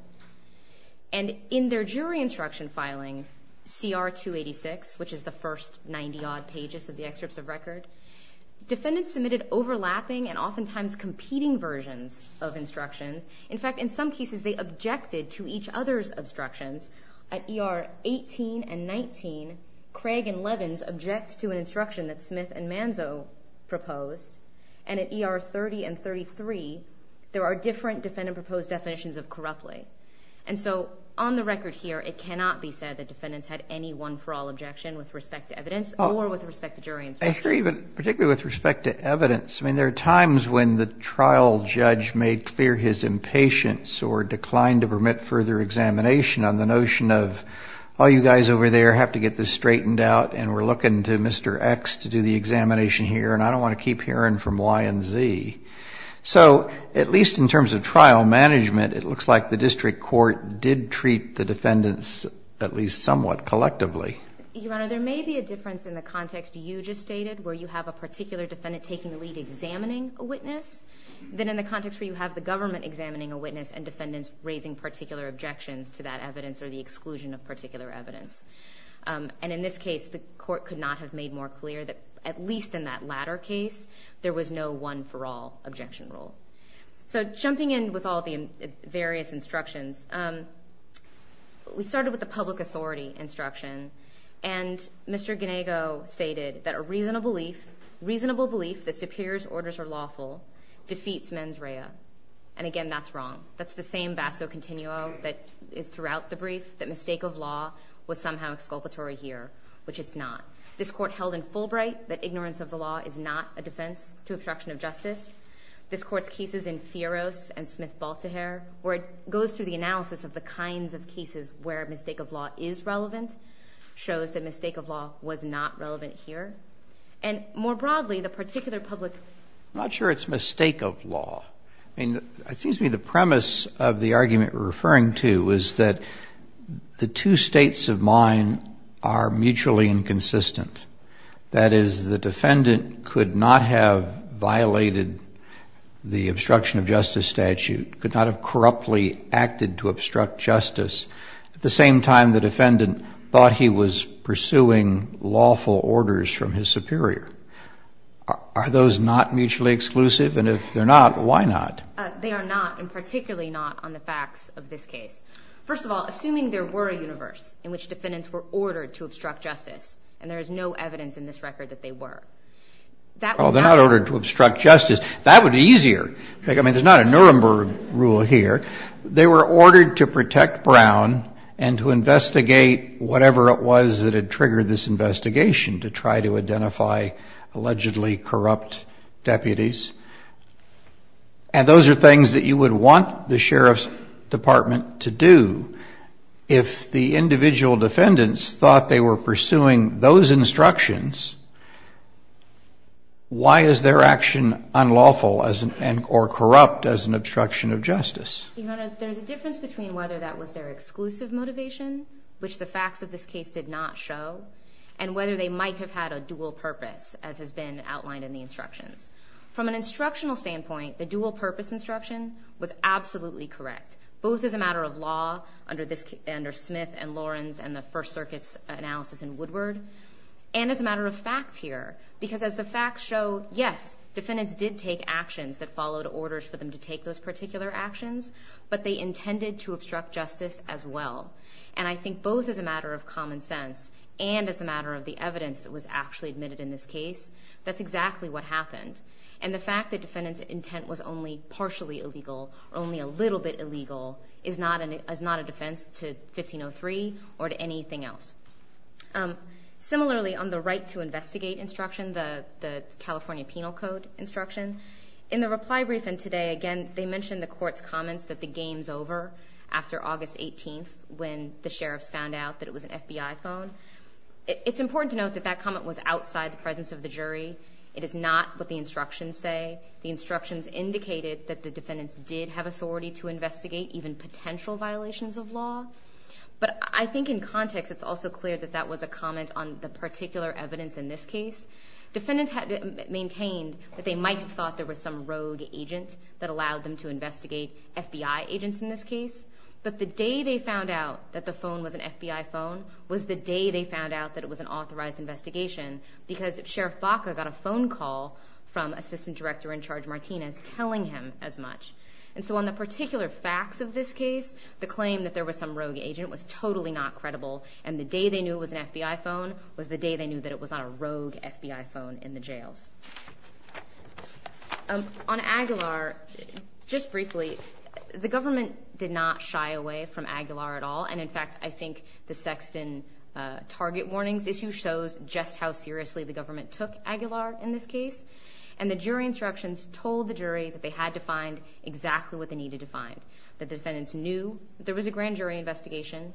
And in their jury instruction filing, CR 286, which is the first 90-odd pages of the excerpts of record, defendants submitted overlapping and oftentimes competing versions of instructions. In fact, in some cases, they objected to each other's obstructions. At ER 18 and 19, Craig and Levins objected to an instruction that Smith and Manzo proposed. And at ER 30 and 33, there are different defendant proposed definitions of corruptly. And so on the record here, it cannot be said that defendants had any one-for-all objection with respect to evidence or with respect to jury instruction. I hear you, but particularly with respect to evidence, I mean, there are times when the trial judge may clear his impatience or decline to permit further examination on the notion of, oh, you guys over there have to get this straightened out and we're looking to Mr. X to do the examination here, and I don't want to keep hearing from Y and Z. So at least in terms of trial management, it looks like the district court did treat the defendants at least somewhat collectively. Your Honor, there may be a difference in the context you just stated where you have a particular defendant taking the lead examining a witness than in the context where you have the government examining a witness and defendants raising particular objections to that evidence or the exclusion of particular evidence. And in this case, the court could not have made more clear that at least in that latter case, there was no one-for-all objection rule. So jumping in with all the various instructions, we started with the public authority instruction, and Mr. Ginego stated that a reasonable belief that Superior's orders are lawful defeats mens rea. And again, that's wrong. That's the same vasco continuo that is throughout the brief that mistake of law was somehow exculpatory here, which it's not. This court held in Fulbright that ignorance of the law is not a defense to obstruction of justice. This court's cases in Sieros and Smith-Baltahare, where it goes through the analysis of the kinds of cases where mistake of law is relevant, shows that mistake of law was not relevant here. And more broadly, the particular public... I'm not sure it's mistake of law. I mean, the premise of the argument we're referring to is that the two states of mind are mutually inconsistent. That is, the defendant could not have violated the obstruction of justice statute, could not have corruptly acted to obstruct justice. At the same time, the defendant thought he was pursuing lawful orders from his superior. Are those not mutually exclusive? And if they're not, why not? They are not, and particularly not on the facts of this case. First of all, assuming there were a universe in which defendants were ordered to obstruct justice, and there's no evidence in this record that they were. Well, they're not ordered to obstruct justice. That would be easier. I mean, there's not a Nuremberg rule here. They were ordered to protect Brown and to investigate whatever it was that had triggered this investigation to try to identify allegedly corrupt deputies. And those are things that you would want the Sheriff's Department to do. If the individual defendants thought they were pursuing those instructions, why is their action unlawful or corrupt as an obstruction of justice? There's a difference between whether that was their exclusive motivation, which the facts of this case did not show, and whether they might have had a dual purpose, as has been outlined in the instructions. From an instructional standpoint, the dual purpose instruction was absolutely correct, both as a matter of law under Smith and Lawrence and the First Circuit's analysis in Woodward, and as a matter of facts here, because as the facts show, yes, defendants did take actions that followed orders for them to take those particular actions, but they intended to obstruct justice as well. And I think both as a matter of common sense and as a matter of the evidence that was actually admitted in this case, that's exactly what happened. And the fact that defendant's intent was only partially illegal, only a little bit illegal, is not a defense to 1503 or to anything else. Similarly, on the right to investigate instruction, the California Penal Code instruction, in the reply brief and today, again, they mentioned the court's comments that the game's over after August 18th, when the sheriff found out that it was an FBI phone. It's important to note that that comment was outside the presence of the jury. It is not what the instructions say. The instructions indicated that the defendants did have authority to investigate even potential violations of law. But I think in context, it's also clear that that was a comment on the particular evidence in this case. Defendants had maintained that they might have thought there were some rogue agents that allowed them to investigate FBI agents in this case. But the day they found out that the phone was an FBI phone was the day they found out that it was an authorized investigation, because Sheriff Baca got a phone call from Assistant Director-in-Charge Martinez telling him as much. And so on the particular facts of this case, the claim that there was some rogue agent was totally not credible. And the day they knew it was an FBI phone was the day they knew that it was on a rogue FBI phone in the jail. On Aguilar, just briefly, the government did not shy away from Aguilar at all. And in fact, I think the Sexton target warnings issue shows just how seriously the government took Aguilar in this case. And the jury instructions told the jury that they had to find exactly what they needed to find. The defendants knew there was a grand jury investigation,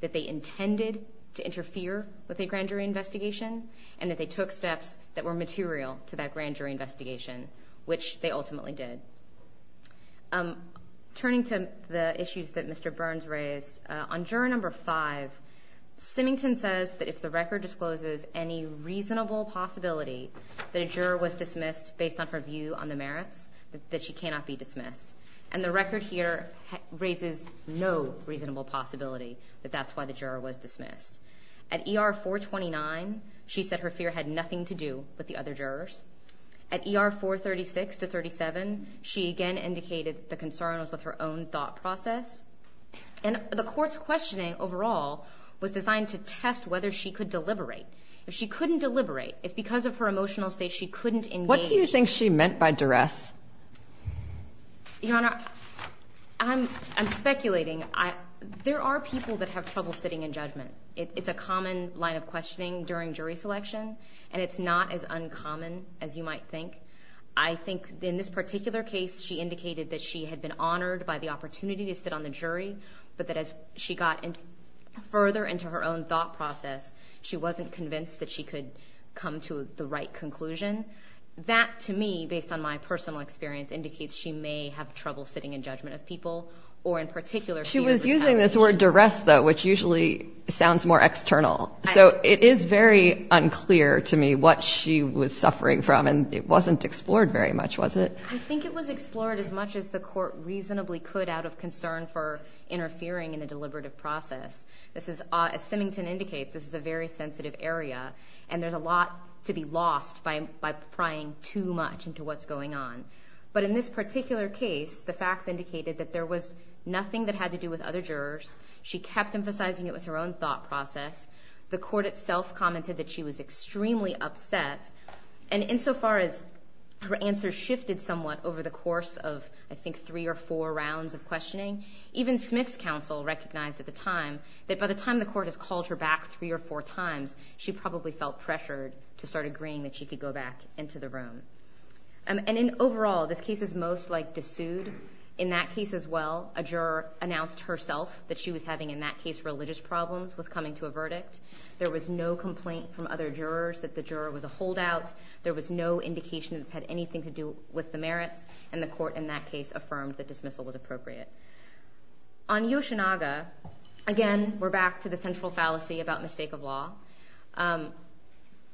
that they intended to interfere with a grand jury investigation, and that they took steps that were material to that grand jury investigation, which they ultimately did. Turning to the issues that Mr. Burns raised, on juror number five, Sinnington says that if the record discloses any reasonable possibility that a juror was dismissed based on her view on the merits, that she cannot be dismissed. And the record here raises no reasonable possibility that that's why the juror was dismissed. At ER 429, she said her fear had nothing to do with the other jurors. At ER 436 to 37, she again indicated the concerns with her own thought process. And the court's questioning overall was designed to test whether she could deliberate. If she couldn't deliberate, if because of her emotional state she couldn't engage... What do you think she meant by duress? Your Honor, I'm speculating. There are people that have trouble sitting in judgment. It's a common line of questioning during jury selection, and it's not as uncommon as you might think. I think in this particular case, she indicated that she had been honored by the opportunity to sit on the jury, but that as she got further into her own thought process, she wasn't convinced that she could come to the right conclusion. That, to me, based on my personal experience, indicates she may have trouble sitting in judgment of people, or in particular... She was using this word duress, though, which usually sounds more external. So it is very unclear to me what she was suffering from, and it wasn't explored very much, was it? I think it was explored as much as the court reasonably could out of concern for interfering in a deliberative process. As Simington indicates, this is a very sensitive area, and there's a lot to be lost by prying too much into what's going on. But in this particular case, the facts indicated that there was nothing that had to do with other jurors. She kept emphasizing it was her own thought process. The court itself commented that she was extremely upset, and insofar as her answer shifted somewhat over the course of, I think, three or four rounds of questioning, even Smith's counsel recognized at the time that by the time the court had called her back three or four times, she probably felt pressured to start agreeing that she could go back into the room. And then overall, this case is most likely sued. In that case as well, a juror announced herself that she was having, in that case, religious problems with coming to a verdict. There was no complaint from other jurors that the juror was a holdout. There was no indication that it had anything to do with the merits, and the court in that case affirmed that dismissal was appropriate. On Yoshinaga, again, we're back to the central fallacy about mistake of law.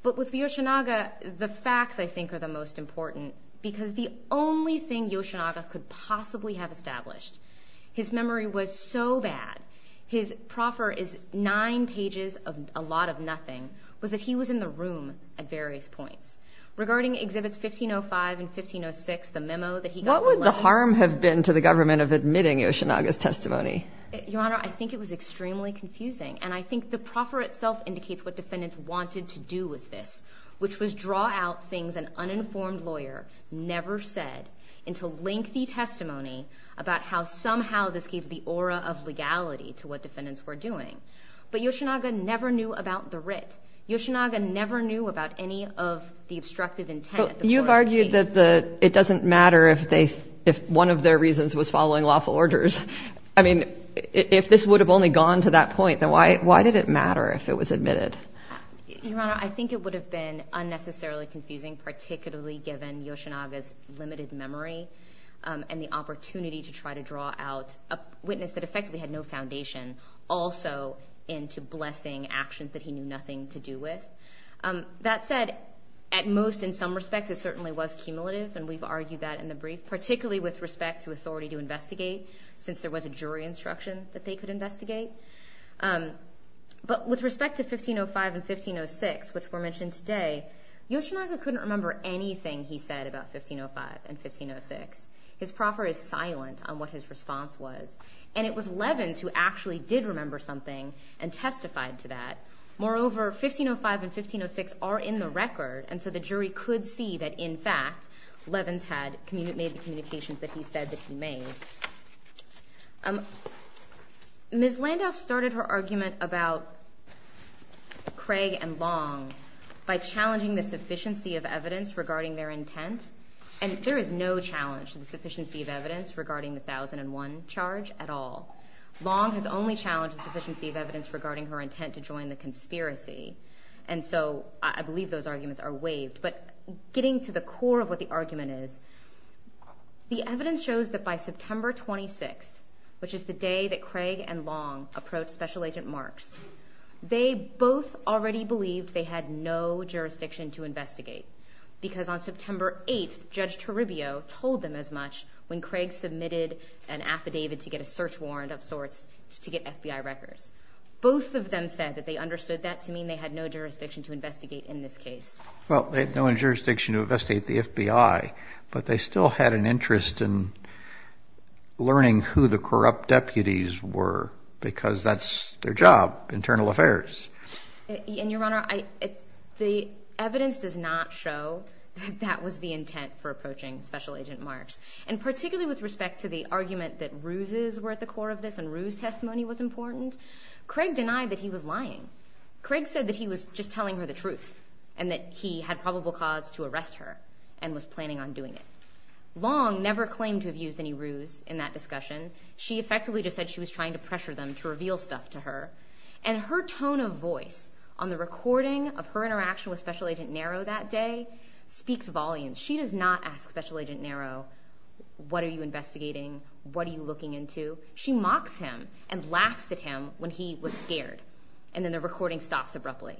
But with Yoshinaga, the facts, I think, are the most important, because the only thing Yoshinaga could possibly have established, his memory was so bad, his proffer is nine pages of a lot of nothing, was that he was in the room at various points. Regarding Exhibits 1505 and 1506, the memo that he got... What would the harm have been to the government of admitting Yoshinaga's testimony? Your Honor, I think it was extremely confusing, and I think the proffer itself indicates what defendants wanted to do with this, which was draw out things an uninformed lawyer never said into lengthy testimony about how somehow this gave the aura of legality to what defendants were doing. But Yoshinaga never knew about the writ. Yoshinaga never knew about any of the obstructive intent. You've argued that it doesn't matter if one of their reasons was following lawful orders. I mean, if this would have only gone to that point, then why did it matter if it was admitted? Your Honor, I think it would have been unnecessarily confusing, particularly given Yoshinaga's limited memory and the opportunity to try to draw out a witness that had no foundation also into blessing actions that he knew nothing to do with. That said, at most in some respects, it certainly was cumulative, and we've argued that in the brief, particularly with respect to authority to investigate, since there was a jury instruction that they could investigate. But with respect to 1505 and 1506, which were mentioned today, Yoshinaga couldn't remember anything he said about 1505 and 1506. His proffer is silent on what his leavens who actually did remember something and testified to that. Moreover, 1505 and 1506 are in the record, and so the jury could see that, in fact, Leavens had made the communications that he said that he made. Ms. Landau started her argument about Craig and Long by challenging the sufficiency of evidence regarding their intent, and there is no challenge to the sufficiency of evidence. Long has only challenged the sufficiency of evidence regarding her intent to join the conspiracy, and so I believe those arguments are waived. But getting to the core of what the argument is, the evidence shows that by September 26th, which is the day that Craig and Long approached Special Agent Marks, they both already believed they had no jurisdiction to investigate, because on September 8th, Judge Toribio told them as much when Craig submitted an affidavit to get a search warrant of sorts to get FBI records. Both of them said that they understood that to mean they had no jurisdiction to investigate in this case. Well, they had no jurisdiction to investigate the FBI, but they still had an interest in learning who the corrupt deputies were, because that's their job, internal affairs. Your Honor, the evidence does not show that was the intent for testimony was important. Craig denied that he was lying. Craig said that he was just telling her the truth and that he had probable cause to arrest her and was planning on doing it. Long never claimed to have used any ruse in that discussion. She effectively just said she was trying to pressure them to reveal stuff to her, and her tone of voice on the recording of her interaction with Special Agent Narrow that day speaks volumes. She does not ask Special Agent Narrow, what are you doing? She mocked him and laughed at him when he was scared, and then the recording stopped abruptly.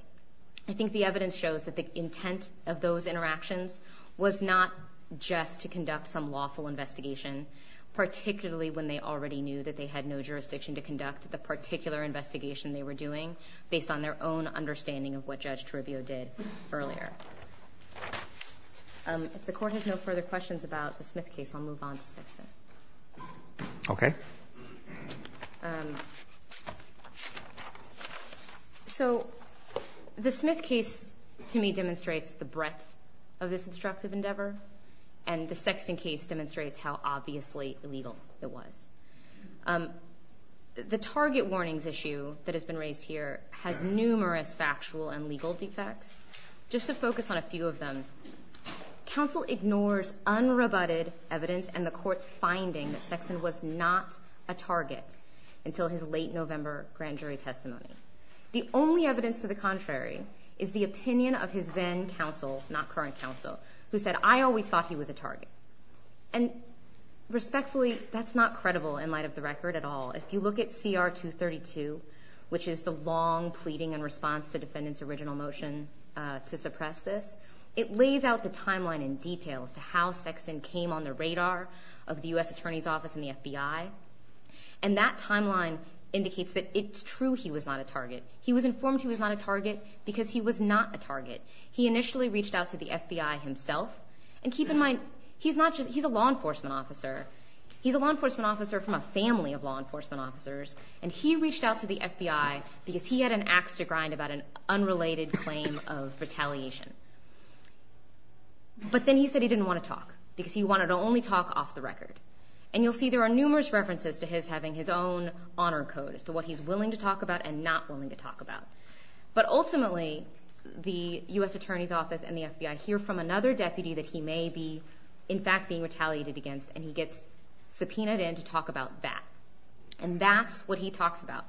I think the evidence shows that the intent of those interactions was not just to conduct some lawful investigation, particularly when they already knew that they had no jurisdiction to conduct the particular investigation they were doing based on their own understanding of what Judge Toribio did earlier. If the Court has no further questions about the Smith case, I'll move on. Okay. So the Smith case to me demonstrates the breadth of this destructive endeavor, and the Sexton case demonstrates how obviously illegal it was. The target warnings issue that has been raised here has numerous factual and legal defects. Just to focus on a few of them, counsel ignores unrebutted evidence and the Court's finding that Sexton was not a target until his late November grand jury testimony. The only evidence to the contrary is the opinion of his then counsel, not current counsel, who said, I always thought he was a target. And respectfully, that's not credible in light of the record at all. If you look at CR 232, which is the long response to the defendant's original motion to suppress this, it lays out the timeline in detail to how Sexton came on the radar of the U.S. Attorney's Office and the FBI, and that timeline indicates that it's true he was not a target. He was informed he was not a target because he was not a target. He initially reached out to the FBI himself, and keep in mind, he's a law enforcement officer. He's a law enforcement officer from a family of law enforcement officers, and he reached out to the FBI because he had an ax to grind about an unrelated claim of retaliation. But then he said he didn't want to talk because he wanted to only talk off the record. And you'll see there are numerous references to his having his own honor code as to what he's willing to talk about and not willing to talk about. But ultimately, the U.S. Attorney's Office and the FBI hear from another deputy that he may be, in fact, being retaliated against, and he gets subpoenaed in that. And that's what he talks about.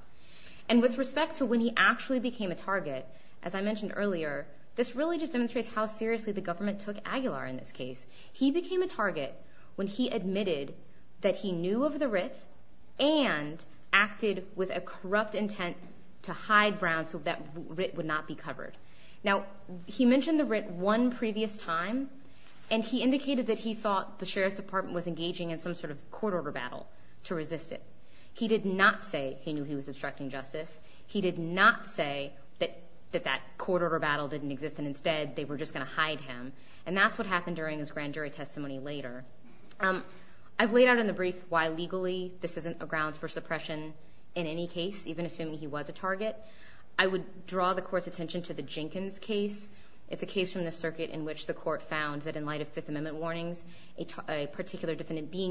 And with respect to when he actually became a target, as I mentioned earlier, this really just demonstrates how seriously the government took Aguilar in this case. He became a target when he admitted that he knew of the writ and acted with a corrupt intent to hide grounds that that writ would not be covered. Now, he mentioned the writ one previous time, and he indicated that he thought the Sheriff's Department was engaging in some sort of court order battle to resist it. He did not say he knew he was obstructing justice. He did not say that that court order battle didn't exist and instead they were just going to hide him. And that's what happened during his grand jury testimony later. I've laid out in the brief why legally this isn't a ground for suppression in any case, even assuming he was a target. I would draw the court's attention to the Jenkins case. It's a case from the circuit in which the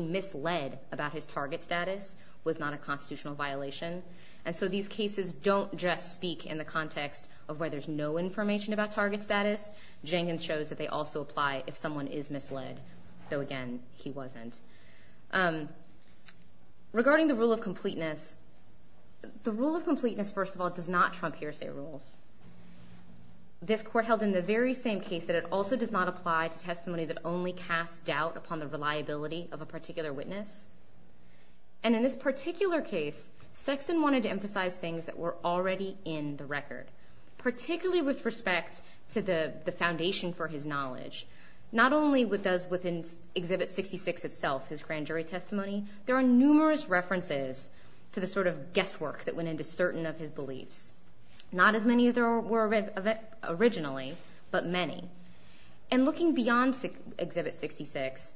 misled about his target status was not a constitutional violation. And so these cases don't just speak in the context of where there's no information about target status. Jenkins shows that they also apply if someone is misled. So again, he wasn't. Regarding the rule of completeness, the rule of completeness, first of all, does not trump hearsay rule. This court held in the very same case that it also does not apply to testimony that only casts doubt upon the reliability of a particular witness. And in this particular case, Sexton wanted to emphasize things that were already in the record, particularly with respect to the foundation for his knowledge. Not only with those within Exhibit 66 itself, his grand jury testimony, there are numerous references to the sort of guesswork that went into certain of his beliefs. Not as many as there were originally, but many. And looking beyond Exhibit 66,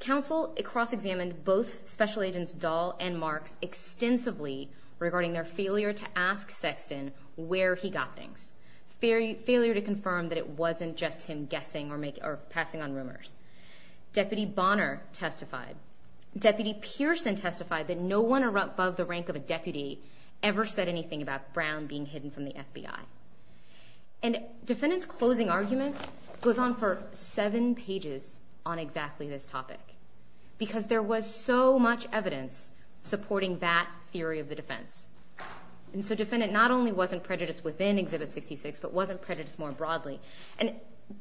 counsel cross-examined both Special Agents Dahl and Mark extensively regarding their failure to ask Sexton where he got things. Failure to confirm that it wasn't just him guessing or passing on rumors. Deputy Bonner testified. Deputy Pearson testified that no one above the rank of deputy ever said anything about Brown being hidden from the FBI. And defendant's closing argument goes on for seven pages on exactly this topic, because there was so much evidence supporting that theory of the defense. And so defendant not only wasn't prejudiced within Exhibit 66, but wasn't prejudiced more broadly. And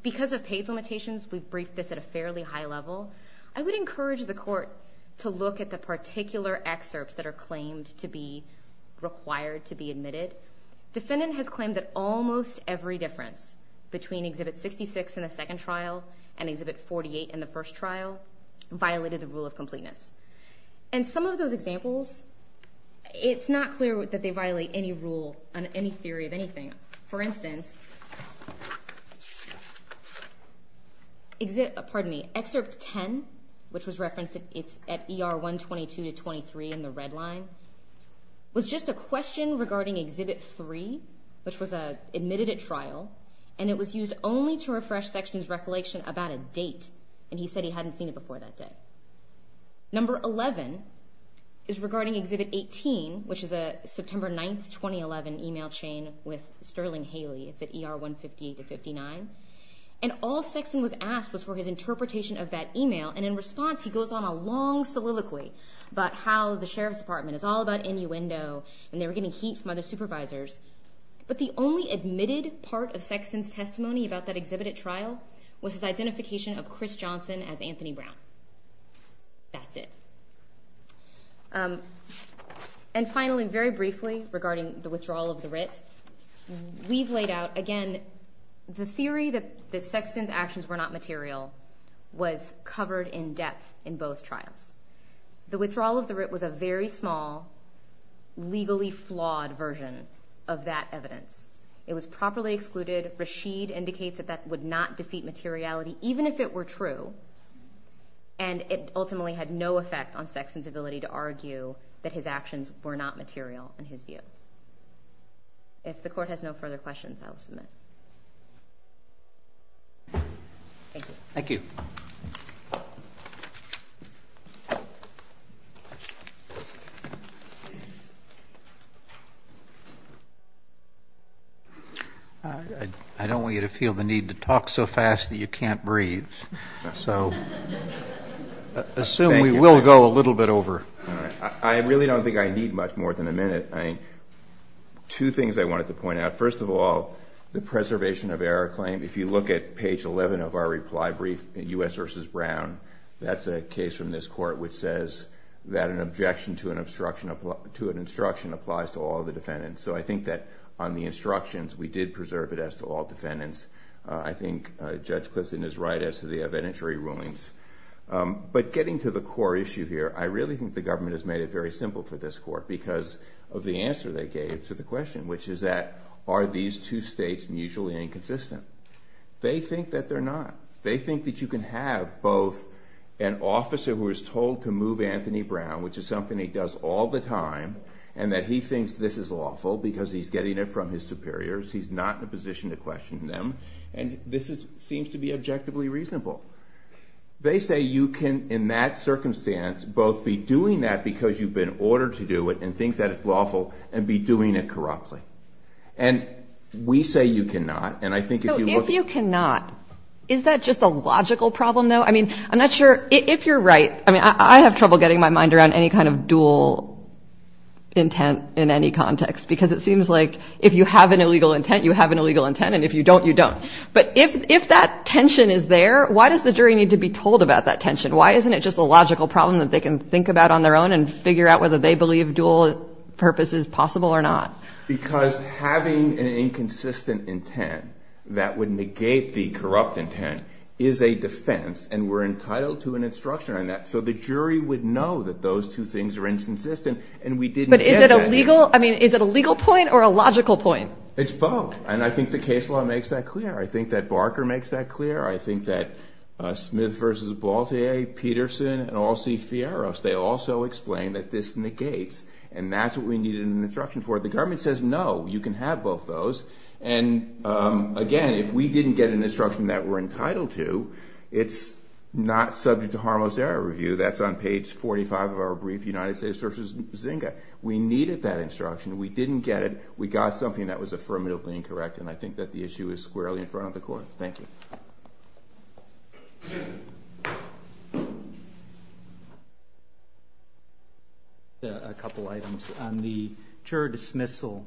because of page limitations, we've briefed this at a fairly high level. I would encourage the court to look at the particular excerpts that are required to be admitted. Defendant has claimed that almost every difference between Exhibit 66 in the second trial and Exhibit 48 in the first trial violated the rule of completeness. And some of those examples, it's not clear that they violate any rule on any theory of anything. For instance, Excerpt 10, which was referenced at ER 122 to 23 in the red line, was just a question regarding Exhibit 3, which was admitted at trial, and it was used only to refresh Sexton's recollection about a date, and he said he hadn't seen it before that day. Number 11 is regarding Exhibit 18, which is a September 9, 2011 email chain with Sterling Haley at ER 158 to 59. And all Sexton was asked was for his interpretation of that email. And in response, he goes on a long soliloquy about how the Sheriff's Department is all about innuendo, and they were getting heat from other supervisors. But the only admitted part of Sexton's testimony about that exhibit at trial was his identification of Chris Johnson as Anthony Brown. That's it. And finally, very briefly regarding the withdrawal of the writ, we've laid out, again, the theory that Sexton's actions were not material was covered in depth in both trials. The withdrawal of the writ was a very small, legally flawed version of that evidence. It was properly excluded. Rashid indicates that would not defeat materiality, even if it were true, and it ultimately had no effect on Sexton's ability to argue that his actions were not material in his view. If the court has no further questions, I'll submit. Thank you. Thank you. I don't want you to feel the need to talk so fast that you can't breathe. So assume we will go a little bit over. I really don't think I need much more than a minute. Two things I wanted to point out. First of all, the preservation of error claim. If you look at Brown, that's a case from this court which says that an objection to an instruction applies to all the defendants. So I think that on the instructions, we did preserve it as to all defendants. I think Judge Clifton is right as to the evidentiary rulings. But getting to the core issue here, I really think the government has made it very simple for this court because of the answer they gave to the question, which is that are these two states mutually inconsistent? They think that they're not. They think that you can have both an officer who is told to move Anthony Brown, which is something he does all the time, and that he thinks this is awful because he's getting it from his superiors. He's not in a position to question them. And this seems to be objectively reasonable. They say you can, in that circumstance, both be doing that because you've been ordered to do it and think that it's lawful and be doing it corruptly. And we say you cannot. So if you cannot, is that just a logical problem, though? I mean, I'm not sure. If you're right, I mean, I have trouble getting my mind around any kind of dual intent in any context because it seems like if you have an illegal intent, you have an illegal intent, and if you don't, you don't. But if that tension is there, why does the jury need to be told about that tension? Why isn't it just a logical problem that they can think about on their own and figure out whether they that would negate the corrupt intent is a defense and we're entitled to an instruction on that. So the jury would know that those two things are inconsistent, and we didn't. But is it a legal, I mean, is it a legal point or a logical point? It's both. And I think the case law makes that clear. I think that Barker makes that clear. I think that Smith v. Baltier, Peterson, and all C. Fierro's, they also explain that this negates. And that's what we needed an instruction for. The government says, no, you can have both those. And again, if we didn't get an instruction that we're entitled to, it's not subject to harmless error review. That's on page 45 of our brief, United States versus Zynga. We needed that instruction. We didn't get it. We got something that was affirmatively incorrect. And I think that the issue is squarely in front of the court. Thank you. A couple items on the jury dismissal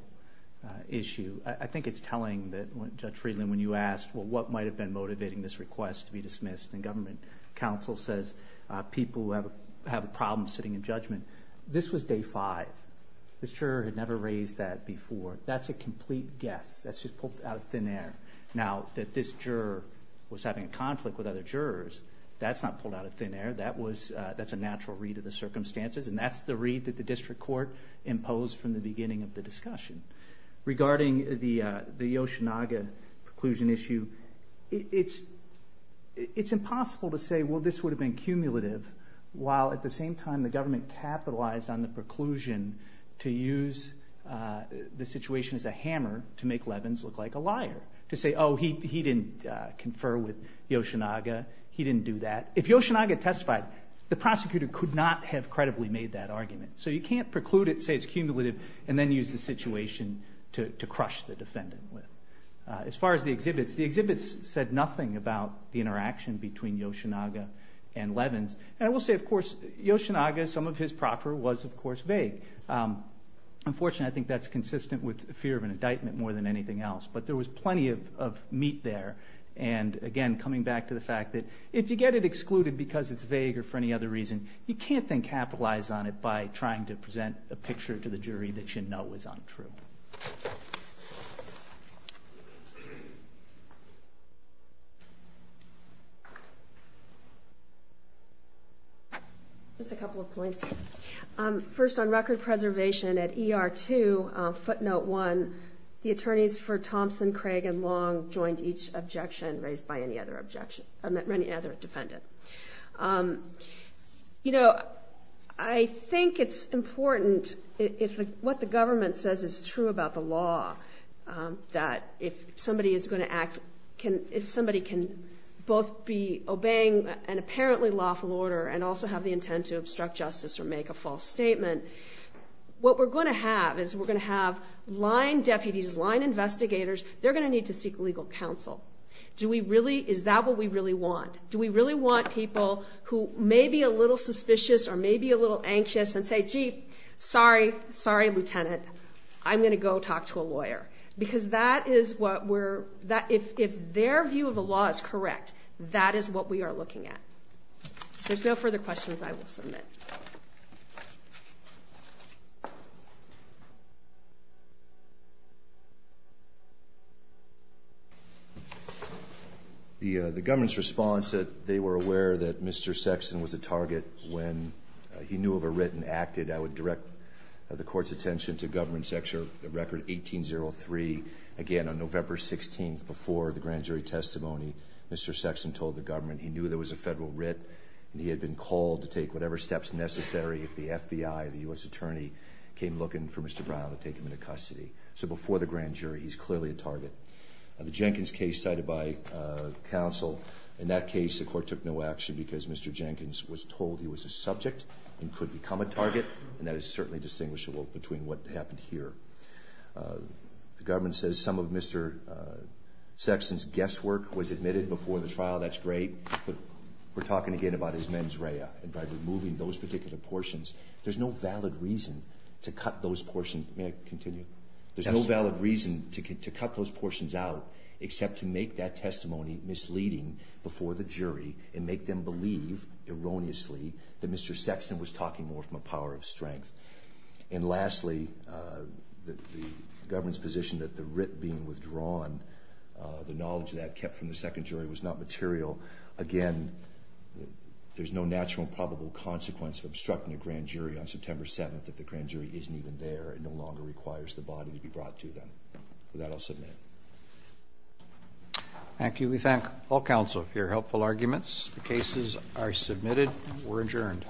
issue. I think it's telling that Judge Friedland, when you asked, well, what might have been motivating this request to be dismissed? And government counsel says people who have a problem sitting in judgment. This was day five. The juror had never raised that before. That's a complete guess. That's just pulled out of thin air. Now, that this juror was having a conflict with other jurors, that's not pulled out of thin air. That's a natural read of the circumstances. And that's the read that the district court imposed from the beginning of the discussion. Regarding the Oceanaga preclusion issue, it's impossible to say, well, this would have been cumulative, while at the same time, the government capitalized on the preclusion to use the situation as a hammer to make Levins look like a liar. To say, oh, he didn't confer with the Oceanaga. He didn't do that. If the Oceanaga testified, the prosecutor could not have credibly made that argument. So you can't preclude it, say it's cumulative, and then use the situation to crush the defendant. As far as the exhibits, the exhibits said nothing about the interaction between the Oceanaga and Levin. And I will say, of course, the Oceanaga, some of his proffer was, of course, vague. Unfortunately, I think that's consistent with the fear of indictment more than anything else. But there was plenty of meat there. And again, coming back to the fact that if you get it excluded because it's vague or for any other reason, you can't then capitalize on it by trying to present a picture to the jury that you know is untrue. Just a couple of points. First, on record preservation at ER-2, footnote one, the attorneys for Thompson, Craig, and Long joined each objection raised by any other defendant. You know, I think it's important, it's what the government says is true about the law, that if somebody is going to act, if somebody can both be obeying an apparently lawful order and also have the intent to obstruct justice or make a false statement, what we're going to have is we're going to have line deputies, line investigators, they're going to need to seek legal counsel. Do we really, is that what we really want? Do we really want to people who may be a little suspicious or may be a little anxious and say, gee, sorry, sorry, Lieutenant, I'm going to go talk to a lawyer? Because that is what we're, if their view of the law is correct, that is what we are looking at. If there's no further questions, I will submit. The government's response that they were aware that Mr. Sexton was a target when he knew of a writ and acted, I would direct the court's attention to government section record 1803. Again, on November 16th, before the grand jury testimony, Mr. Sexton told the government he had been called to take whatever steps necessary if the FBI or the U.S. attorney came looking for Mr. Brown to take him into custody. So before the grand jury, he's clearly a target. The Jenkins case cited by counsel, in that case, the court took no action because Mr. Jenkins was told he was a subject and could become a target, and that is certainly distinguishable between what happened here. The government says some of Mr. Sexton's guesswork was admitted before the trial, that's great, but we're talking again about his mens rea and by removing those particular portions, there's no valid reason to cut those portions, may I continue? There's no valid reason to cut those portions out except to make that testimony misleading before the jury and make them believe erroneously that Mr. Sexton was talking more from a power of strength. And lastly, the government's position that the writ being withdrawn, the knowledge that kept from the second jury was not material, again, there's no natural and probable consequence of obstructing the grand jury on September 7th if the grand jury isn't even there and no longer requires the body to be brought to them. With that, I'll submit it. Thank you. We thank all counsel for your helpful arguments. The cases are submitted. We're adjourned.